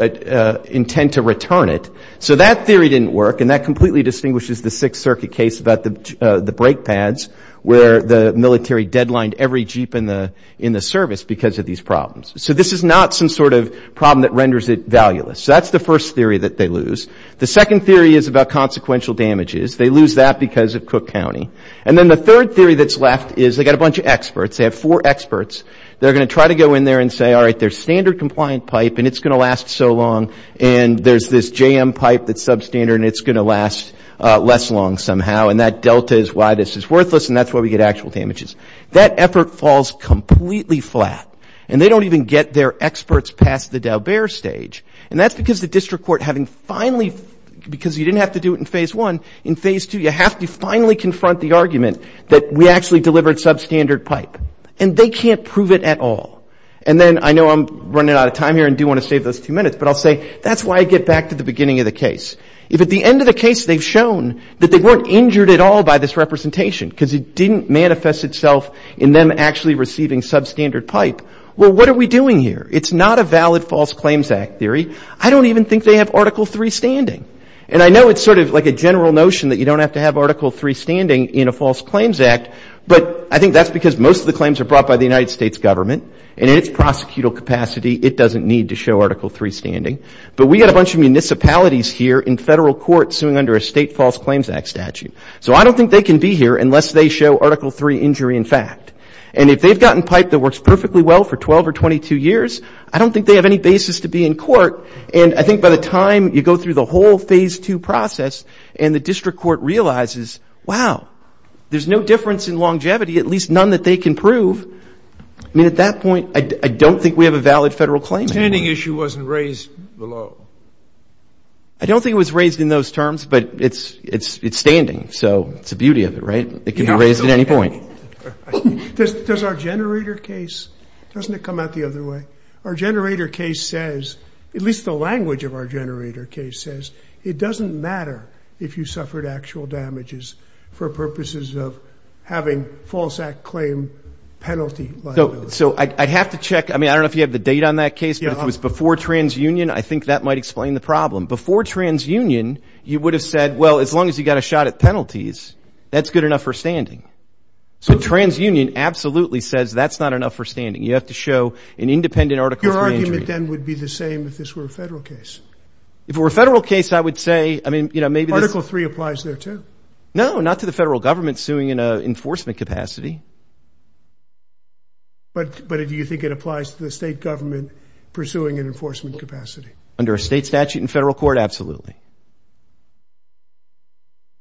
intent to return it. So that theory didn't work and that completely distinguishes the Sixth Circuit case about the brake pads where the military deadlined every Jeep in the service because of these problems. So this is not some sort of problem that renders it valueless. So that's the first theory that they lose. The second theory is about consequential damages. They lose that because of Cook County. And then the third theory that's left is they've got a bunch of experts. They have four experts. They're going to try to go in there and say, all right, there's standard compliant pipe and it's going to last so long because you didn't have to do it in phase one. In phase two you have to finally confront the argument that we actually delivered substandard pipe. And they can't prove it at all. And then I know I'm running out of time here and do want to save those two minutes, but I'll say that's why I get back to the beginning of the case. If at the end of the case they've shown that they weren't injured at all by this representation because it didn't manifest itself in them actually receiving substandard pipe, well, what are we doing here? It's not a valid False Claims Act theory. I don't even think they have Article III standing. And I know it's sort of like a general notion that you don't have to have Article III standing in a False Claims Act, but I think that's because most of the claims are brought by the United States government and in its prosecutable capacity it doesn't need to show Article III standing. But we've got a bunch of municipalities here in federal court suing under a state False Claims Act statute. So I don't think they can be here unless they show Article III injury in fact. And if they've gotten pipe that works perfectly well for 12 or 22 years, I don't think they have any basis to be in court. And I think by the time you go through the whole phase two process and the district court realizes, wow, there's no difference in longevity, at least none that they can prove. I mean, at that point, I don't think we have a valid federal claim. The standing issue wasn't raised below. I don't think it was raised in those terms, but it's standing, so it's the beauty of it, right? It can be raised at any point. Does our generator case, doesn't it come out the other way? Our generator case says, at least the language of our generator case says, it doesn't matter if you suffered actual damages for purposes of having false act claim penalty liability. So I'd have to check. I mean, I don't know if you have the date on that case, but it was before TransUnion. I think that might explain the problem. Before TransUnion, you would have said, well, as long as you got a shot at penalties, that's good enough for standing. So TransUnion absolutely says that's not enough for standing. You have to show an independent article. Your argument then would be the same if this were a federal case. If it were a federal case, I would say, I mean, you know, maybe this. No, not to the federal government suing in an enforcement capacity. But do you think it applies to the state government pursuing an enforcement capacity? Under a state statute in federal court, absolutely.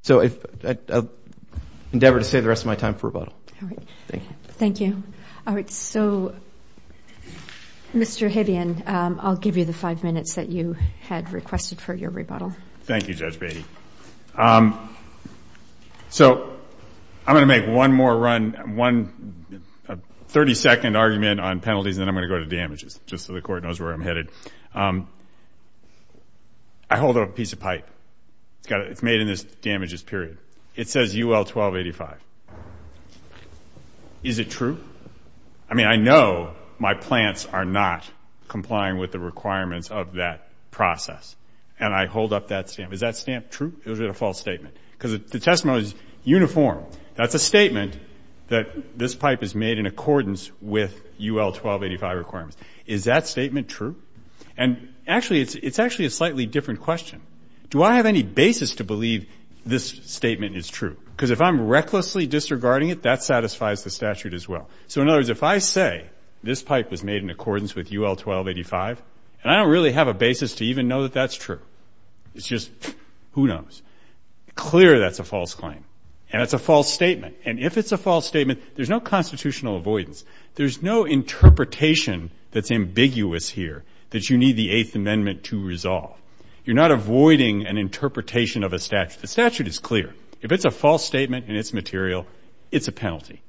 So I'll endeavor to save the rest of my time for rebuttal. Thank you. All right, so Mr. Hibbion, I'll give you the five minutes that you had requested for your rebuttal. Thank you, Judge Beatty. So I'm going to make one more run, a 30-second argument on penalties, and then I'm going to go to damages, but I hold up a piece of pipe. It's made in this damages period. It says UL-1285. Is it true? I mean, I know my plants are not complying with the requirements of that process, and I hold up that stamp. Is that stamp true? Is it a false statement? Because the testimony is uniform. That's a statement that this pipe is made in accordance with UL-1285 requirements. Is that statement true? And actually, it's actually a slightly different question. Do I have any basis to believe this statement is true? Because if I'm recklessly disregarding it, that satisfies the statute as well. So in other words, if I say this pipe was made in accordance with UL-1285, and I don't really have a basis to even know that that's true. It's just who knows. Clear that's a false claim, and it's a false statement. And if it's a false statement, there's no constitutional avoidance. There's no interpretation that's ambiguous here that you need the Eighth Amendment to resolve. You're not avoiding an interpretation of a statute. The statute is clear. If it's a false statement and it's material, it's a penalty.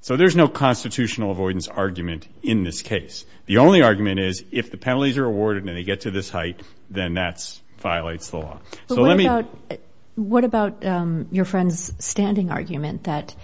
So there's no constitutional avoidance argument in this case. The only argument is if the penalties are awarded and they get to this height, then that violates the law. What about your friend's standing argument that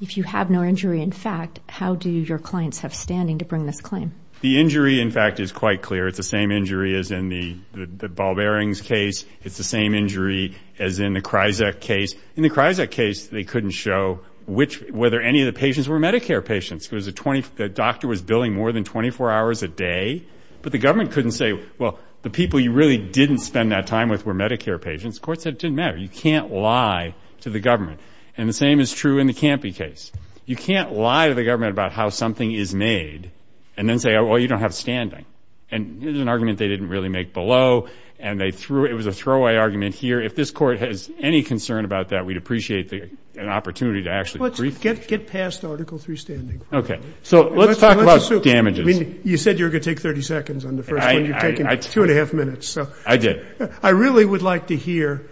if you have no injury in fact, how do your clients have standing to bring this claim? The injury, in fact, is quite clear. It's the same injury as in the ball bearings case. It's the same injury as in the Kryzak case. In the Kryzak case, they couldn't show whether any of the patients were Medicare patients. The doctor was billing more than 24 hours a day, but the government couldn't say, well, the people you really didn't spend that time with were Medicare patients. The court said it didn't matter. You can't lie to the government. And the same is true in the Campy case. You can't lie to the government about how something is made and then say, well, you don't have standing. And it was an argument they didn't really make below, and they threw it. It was a throwaway argument here. If this court has any concern about that, we'd appreciate an opportunity to actually brief the judge. Let's get past Article III standing. Okay. So let's talk about damages. I mean, you said you were going to take 30 seconds on the first one. You're taking two and a half minutes. I did. I really would like to hear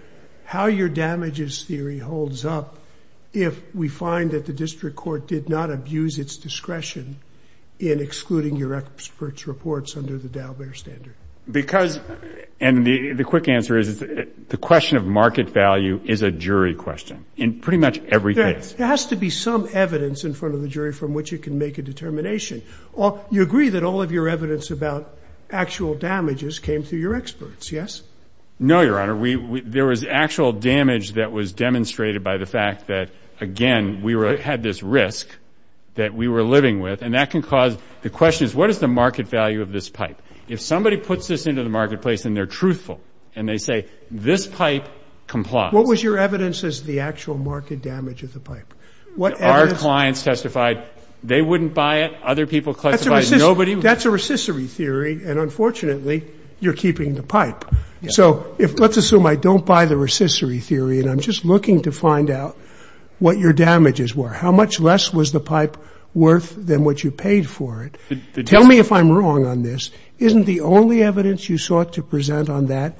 how your damages theory holds up if we find that the district court did not abuse its discretion in excluding your experts' reports under the Dalbert standard. Because the quick answer is the question of market value is a jury question in pretty much every case. There has to be some evidence in front of the jury from which it can make a determination. You agree that all of your evidence about actual damages came through your experts, yes? No, Your Honor. There was actual damage that was demonstrated by the fact that, again, we had this risk that we were living with, and that can cause the question is what is the market value of this pipe? If somebody puts this into the marketplace and they're truthful and they say this pipe complies. What was your evidence as to the actual market damage of the pipe? Our clients testified they wouldn't buy it. Other people testified nobody would. That's a recessory theory, and unfortunately you're keeping the pipe. So let's assume I don't buy the recessory theory and I'm just looking to find out what your damages were. How much less was the pipe worth than what you paid for it? Tell me if I'm wrong on this. Isn't the only evidence you sought to present on that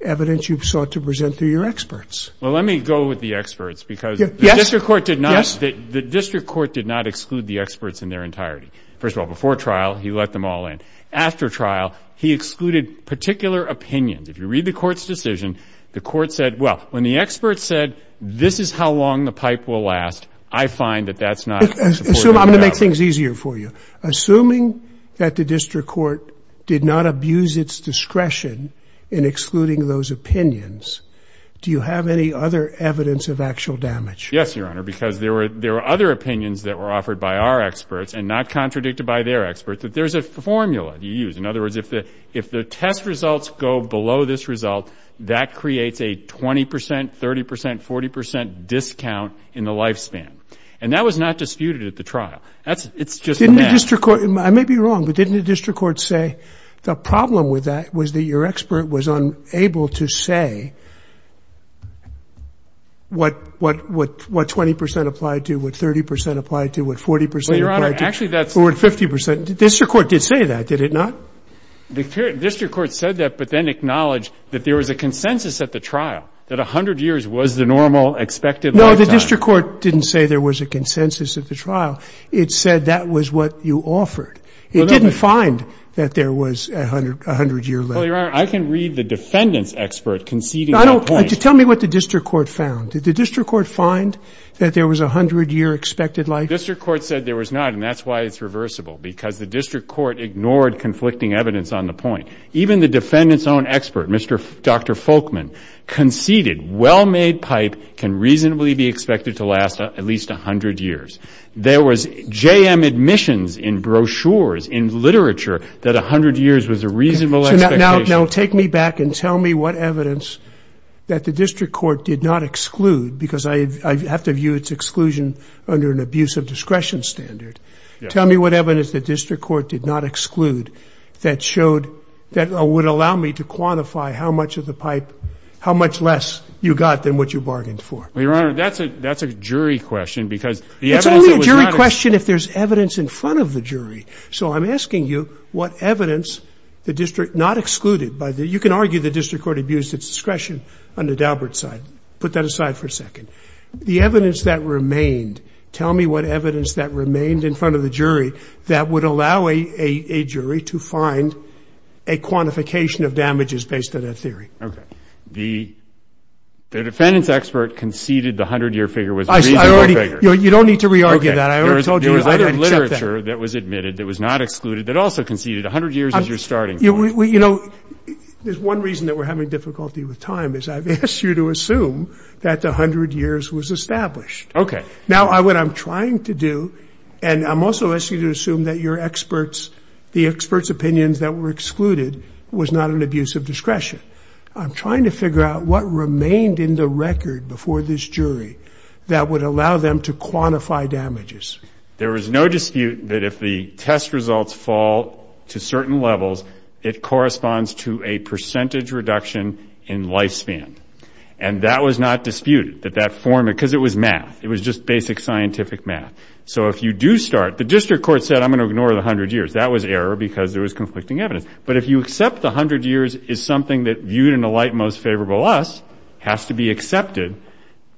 evidence you sought to present through your experts? Well, let me go with the experts because the district court did not exclude the experts in their entirety. First of all, before trial, he let them all in. After trial, he excluded particular opinions. If you read the court's decision, the court said, well, when the expert said this is how long the pipe will last, I find that that's not supporting the doubt. I'm going to make things easier for you. Assuming that the district court did not abuse its discretion in excluding those opinions, do you have any other evidence of actual damage? Yes, Your Honor, because there were other opinions that were offered by our experts and not contradicted by their experts that there's a formula you use. In other words, if the test results go below this result, that creates a 20 percent, 30 percent, 40 percent discount in the lifespan. And that was not disputed at the trial. I may be wrong, but didn't the district court say the problem with that was that your expert was unable to say what 20 percent applied to, what 30 percent applied to, what 40 percent applied to, or what 50 percent? The district court did say that, did it not? The district court said that but then acknowledged that there was a consensus at the trial, that 100 years was the normal expected lifetime. No, the district court didn't say there was a consensus at the trial. It said that was what you offered. It didn't find that there was a 100-year lifetime. Well, Your Honor, I can read the defendant's expert conceding that point. Tell me what the district court found. Did the district court find that there was a 100-year expected life? The district court said there was not, and that's why it's reversible, because the district court ignored conflicting evidence on the point. Even the defendant's own expert, Dr. Folkman, conceded well-made pipe can reasonably be expected to last at least 100 years. There was JM admissions in brochures, in literature, that 100 years was a reasonable expectation. Now take me back and tell me what evidence that the district court did not exclude, because I have to view its exclusion under an abuse of discretion standard. Tell me what evidence the district court did not exclude that showed that would allow me to quantify how much of the pipe, how much less you got than what you bargained for. Well, Your Honor, that's a jury question, because the evidence that was not— It's only a jury question if there's evidence in front of the jury. So I'm asking you what evidence the district not excluded by the— you can argue the district court abused its discretion on the Daubert side. Put that aside for a second. The evidence that remained, tell me what evidence that remained in front of the jury that would allow a jury to find a quantification of damages based on that theory. Okay. The defendant's expert conceded the 100-year figure was a reasonable figure. I already—you don't need to re-argue that. I already told you— There was other literature that was admitted that was not excluded that also conceded 100 years as your starting point. You know, there's one reason that we're having difficulty with time, is I've asked you to assume that the 100 years was established. Okay. Now what I'm trying to do, and I'm also asking you to assume that your experts, the experts' opinions that were excluded was not an abuse of discretion. I'm trying to figure out what remained in the record before this jury that would allow them to quantify damages. There was no dispute that if the test results fall to certain levels, it corresponds to a percentage reduction in lifespan. And that was not disputed, that that form—because it was math. It was just basic scientific math. So if you do start—the district court said, I'm going to ignore the 100 years. That was error because there was conflicting evidence. But if you accept the 100 years is something that, viewed in the light most favorable to us, has to be accepted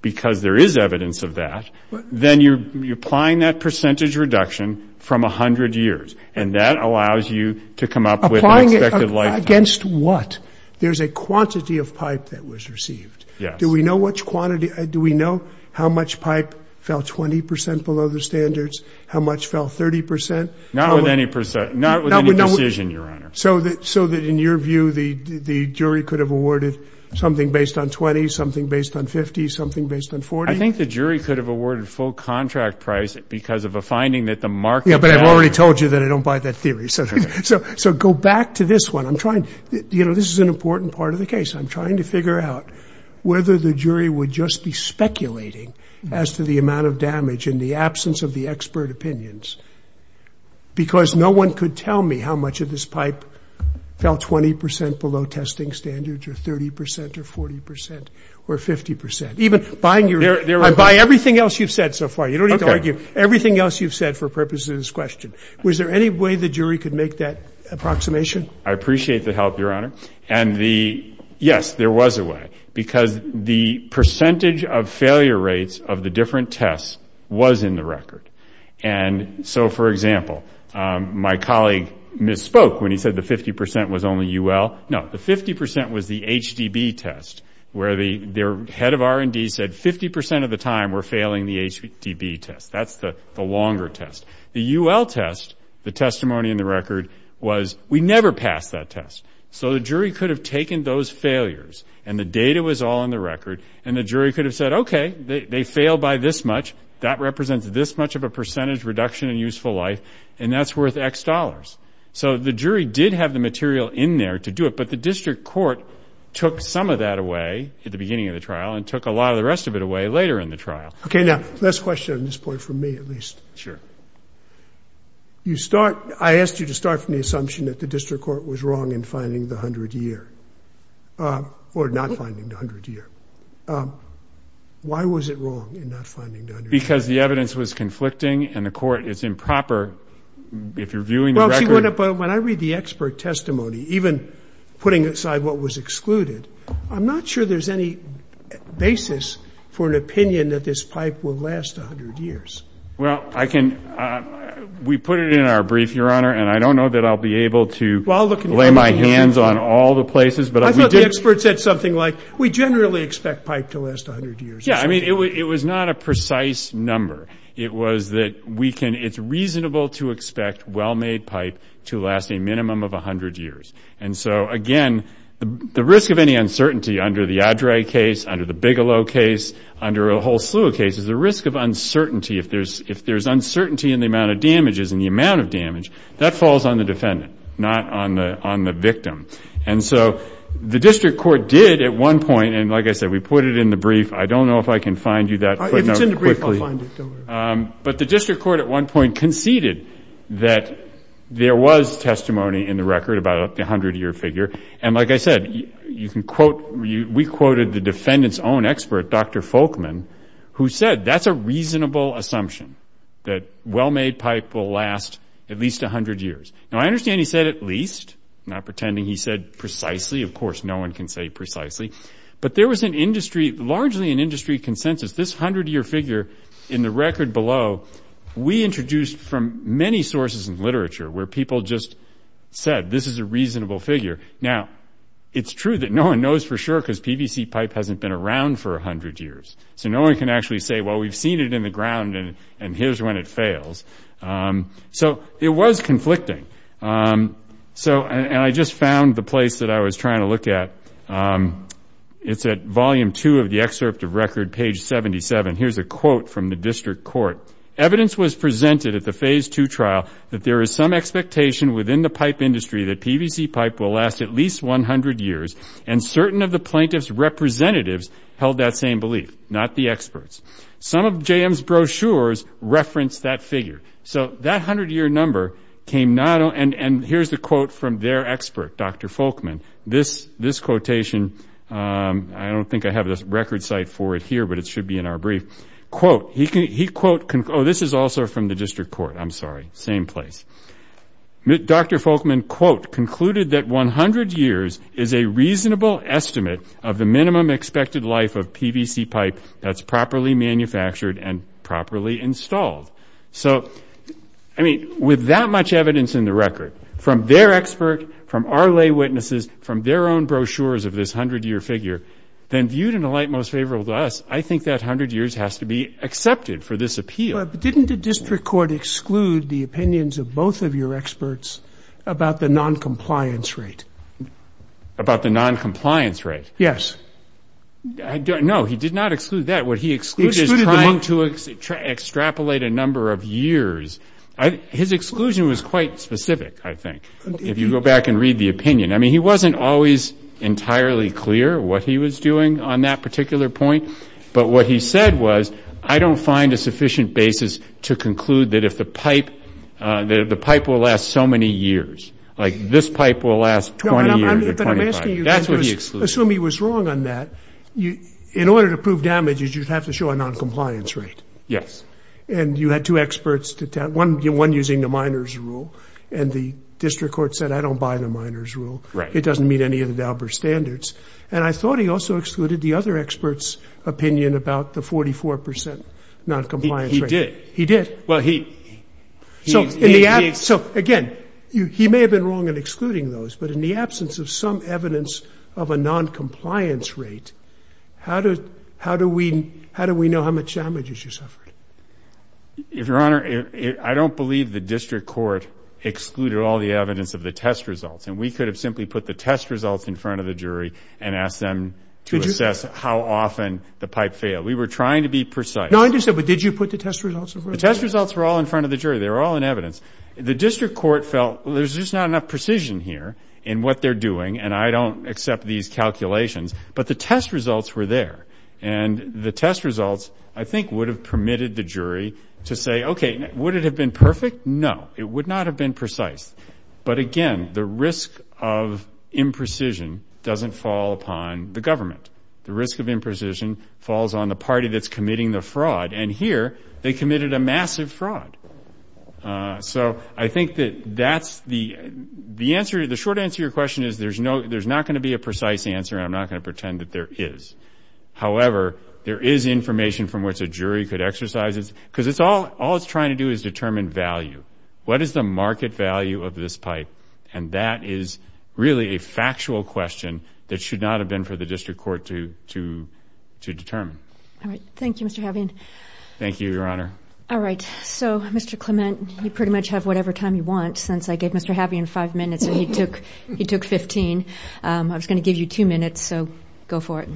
because there is evidence of that, then you're applying that percentage reduction from 100 years, and that allows you to come up with an expected lifetime. Applying against what? There's a quantity of pipe that was received. Yes. Do we know how much pipe fell 20 percent below the standards, how much fell 30 percent? Not with any decision, Your Honor. So that, in your view, the jury could have awarded something based on 20, something based on 50, something based on 40? I think the jury could have awarded full contract price because of a finding that the market— Yeah, but I've already told you that I don't buy that theory. So go back to this one. You know, this is an important part of the case. I'm trying to figure out whether the jury would just be speculating as to the amount of damage in the absence of the expert opinions because no one could tell me how much of this pipe fell 20 percent below testing standards or 30 percent or 40 percent or 50 percent. Even buying your—I buy everything else you've said so far. You don't need to argue. Everything else you've said for purposes of this question. Was there any way the jury could make that approximation? I appreciate the help, Your Honor. And the—yes, there was a way. Because the percentage of failure rates of the different tests was in the record. And so, for example, my colleague misspoke when he said the 50 percent was only UL. No, the 50 percent was the HDB test where their head of R&D said 50 percent of the time we're failing the HDB test. That's the longer test. The UL test, the testimony in the record, was we never passed that test. So the jury could have taken those failures, and the data was all in the record, and the jury could have said, okay, they failed by this much. That represents this much of a percentage reduction in useful life, and that's worth X dollars. So the jury did have the material in there to do it, but the district court took some of that away at the beginning of the trial and took a lot of the rest of it away later in the trial. Okay, now, last question on this point from me, at least. Sure. I asked you to start from the assumption that the district court was wrong in finding the 100-year or not finding the 100-year. Why was it wrong in not finding the 100-year? Because the evidence was conflicting, and the court is improper if you're viewing the record. But when I read the expert testimony, even putting aside what was excluded, I'm not sure there's any basis for an opinion that this pipe will last 100 years. Well, we put it in our brief, Your Honor, and I don't know that I'll be able to lay my hands on all the places. I thought the expert said something like, we generally expect pipe to last 100 years. Yeah, I mean, it was not a precise number. It was that it's reasonable to expect well-made pipe to last a minimum of 100 years. And so, again, the risk of any uncertainty under the Adrae case, under the Bigelow case, under a whole slew of cases, the risk of uncertainty, if there's uncertainty in the amount of damages and the amount of damage, that falls on the defendant, not on the victim. And so the district court did at one point, and like I said, we put it in the brief. I don't know if I can find you that. If it's in the brief, I'll find it. But the district court at one point conceded that there was testimony in the record about the 100-year figure. And like I said, you can quote, we quoted the defendant's own expert, Dr. Folkman, who said that's a reasonable assumption, that well-made pipe will last at least 100 years. Now, I understand he said at least, not pretending he said precisely. Of course, no one can say precisely. But there was an industry, largely an industry consensus, this 100-year figure in the record below, we introduced from many sources in literature where people just said this is a reasonable figure. Now, it's true that no one knows for sure because PVC pipe hasn't been around for 100 years. So no one can actually say, well, we've seen it in the ground, and here's when it fails. So it was conflicting. And I just found the place that I was trying to look at. It's at volume two of the excerpt of record, page 77. Here's a quote from the district court. Evidence was presented at the phase two trial that there is some expectation within the pipe industry that PVC pipe will last at least 100 years. And certain of the plaintiff's representatives held that same belief, not the experts. Some of JM's brochures referenced that figure. So that 100-year number came not only ñ and here's the quote from their expert, Dr. Folkman. This quotation, I don't think I have the record site for it here, but it should be in our brief. Quote, he ñ oh, this is also from the district court. I'm sorry. Dr. Folkman, quote, concluded that 100 years is a reasonable estimate of the minimum expected life of PVC pipe that's properly manufactured and properly installed. So, I mean, with that much evidence in the record from their expert, from our lay witnesses, from their own brochures of this 100-year figure, then viewed in the light most favorable to us, I think that 100 years has to be accepted for this appeal. But didn't the district court exclude the opinions of both of your experts about the noncompliance rate? About the noncompliance rate? Yes. No, he did not exclude that. What he excluded is trying to extrapolate a number of years. His exclusion was quite specific, I think, if you go back and read the opinion. I mean, he wasn't always entirely clear what he was doing on that particular point. But what he said was, I don't find a sufficient basis to conclude that if the pipe will last so many years, like this pipe will last 20 years or 25. That's what he excluded. But I'm asking you, assume he was wrong on that. In order to prove damages, you'd have to show a noncompliance rate. Yes. And you had two experts, one using the minor's rule, and the district court said, I don't buy the minor's rule. Right. It doesn't meet any of the Dauber standards. And I thought he also excluded the other expert's opinion about the 44% noncompliance rate. He did. He did. Well, he. So, again, he may have been wrong in excluding those. But in the absence of some evidence of a noncompliance rate, how do we know how much damages you suffered? Your Honor, I don't believe the district court excluded all the evidence of the test results. And we could have simply put the test results in front of the jury and asked them to assess how often the pipe failed. We were trying to be precise. No, I understand. But did you put the test results in front of the jury? The test results were all in front of the jury. They were all in evidence. The district court felt, well, there's just not enough precision here in what they're doing, and I don't accept these calculations. But the test results were there. And the test results, I think, would have permitted the jury to say, okay, would it have been perfect? No, it would not have been precise. But, again, the risk of imprecision doesn't fall upon the government. The risk of imprecision falls on the party that's committing the fraud. And here, they committed a massive fraud. So I think that that's the answer. The short answer to your question is there's not going to be a precise answer, and I'm not going to pretend that there is. However, there is information from which a jury could exercise it. Because all it's trying to do is determine value. What is the market value of this pipe? And that is really a factual question that should not have been for the district court to determine. All right. Thank you, Mr. Havien. Thank you, Your Honor. All right. So, Mr. Clement, you pretty much have whatever time you want, since I gave Mr. Havien five minutes and he took 15. I was going to give you two minutes, so go for it.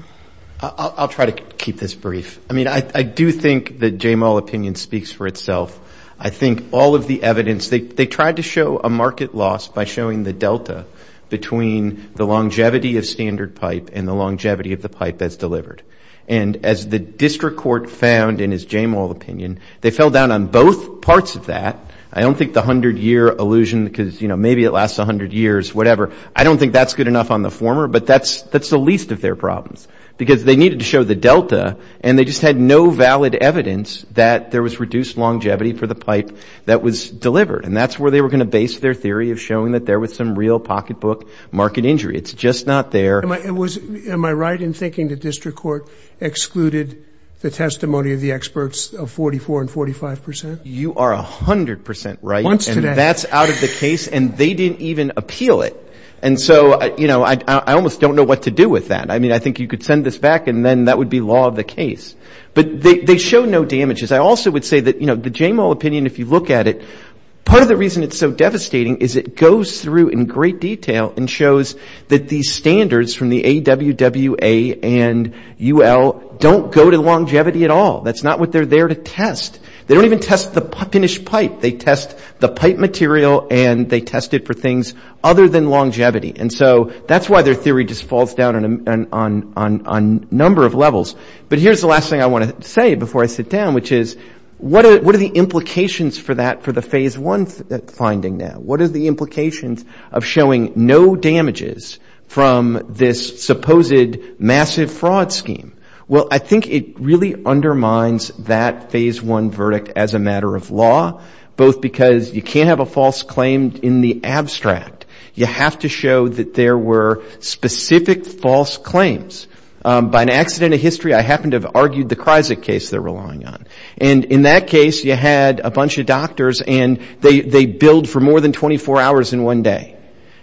I'll try to keep this brief. I mean, I do think that Jamal's opinion speaks for itself. I think all of the evidence, they tried to show a market loss by showing the delta between the longevity of standard pipe and the longevity of the pipe that's delivered. And as the district court found in his Jamal opinion, they fell down on both parts of that. I don't think the 100-year illusion, because, you know, maybe it lasts 100 years, whatever. I don't think that's good enough on the former, but that's the least of their problems. Because they needed to show the delta, and they just had no valid evidence that there was reduced longevity for the pipe that was delivered. And that's where they were going to base their theory of showing that there was some real pocketbook market injury. It's just not there. Am I right in thinking the district court excluded the testimony of the experts of 44% and 45%? You are 100% right. Once today. And that's out of the case, and they didn't even appeal it. And so, you know, I almost don't know what to do with that. I mean, I think you could send this back, and then that would be law of the case. But they show no damages. I also would say that, you know, the Jamal opinion, if you look at it, part of the reason it's so devastating is it goes through in great detail and shows that these standards from the AWWA and UL don't go to longevity at all. That's not what they're there to test. They don't even test the finished pipe. They test the pipe material, and they test it for things other than longevity. And so that's why their theory just falls down on a number of levels. But here's the last thing I want to say before I sit down, which is, what are the implications for that, for the Phase I finding now? What are the implications of showing no damages from this supposed massive fraud scheme? Well, I think it really undermines that Phase I verdict as a matter of law, both because you can't have a false claim in the abstract. You have to show that there were specific false claims. By an accident of history, I happen to have argued the Kryzik case they're relying on. And in that case, you had a bunch of doctors, and they billed for more than 24 hours in one day.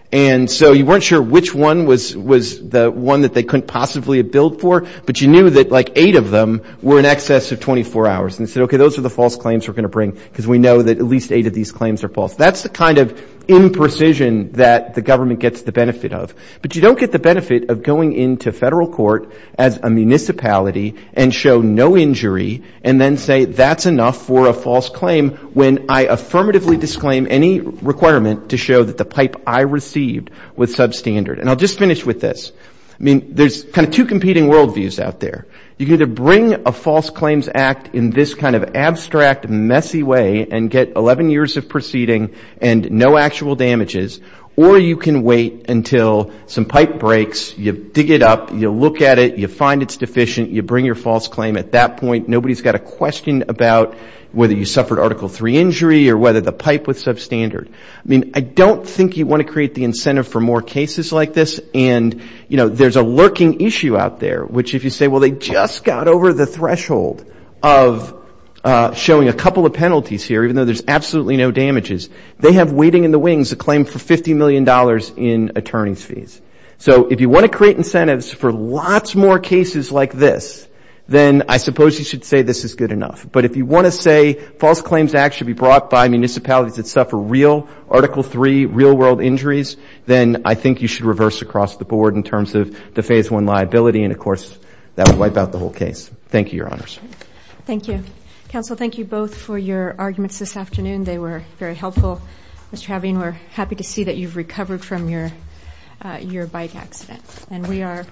And so you weren't sure which one was the one that they couldn't possibly have billed for, but you knew that, like, eight of them were in excess of 24 hours. And you said, okay, those are the false claims we're going to bring, because we know that at least eight of these claims are false. That's the kind of imprecision that the government gets the benefit of. But you don't get the benefit of going into federal court as a municipality and show no injury and then say that's enough for a false claim when I affirmatively disclaim any requirement to show that the pipe I received was substandard. And I'll just finish with this. I mean, there's kind of two competing world views out there. You can either bring a false claims act in this kind of abstract, messy way and get 11 years of proceeding and no actual damages, or you can wait until some pipe breaks, you dig it up, you look at it, you find it's deficient, you bring your false claim. At that point, nobody's got a question about whether you suffered Article III injury or whether the pipe was substandard. I mean, I don't think you want to create the incentive for more cases like this. And, you know, there's a lurking issue out there, which if you say, well, they just got over the threshold of showing a couple of penalties here, even though there's absolutely no damages, they have waiting in the wings a claim for $50 million in attorney's fees. So if you want to create incentives for lots more cases like this, then I suppose you should say this is good enough. But if you want to say false claims act should be brought by municipalities that suffer real Article III, real world injuries, then I think you should reverse across the board in terms of the Phase I liability. And, of course, that would wipe out the whole case. Thank you, Your Honors. Thank you. Counsel, thank you both for your arguments this afternoon. They were very helpful. We're happy to see that you've recovered from your bike accident. And we are adjourned.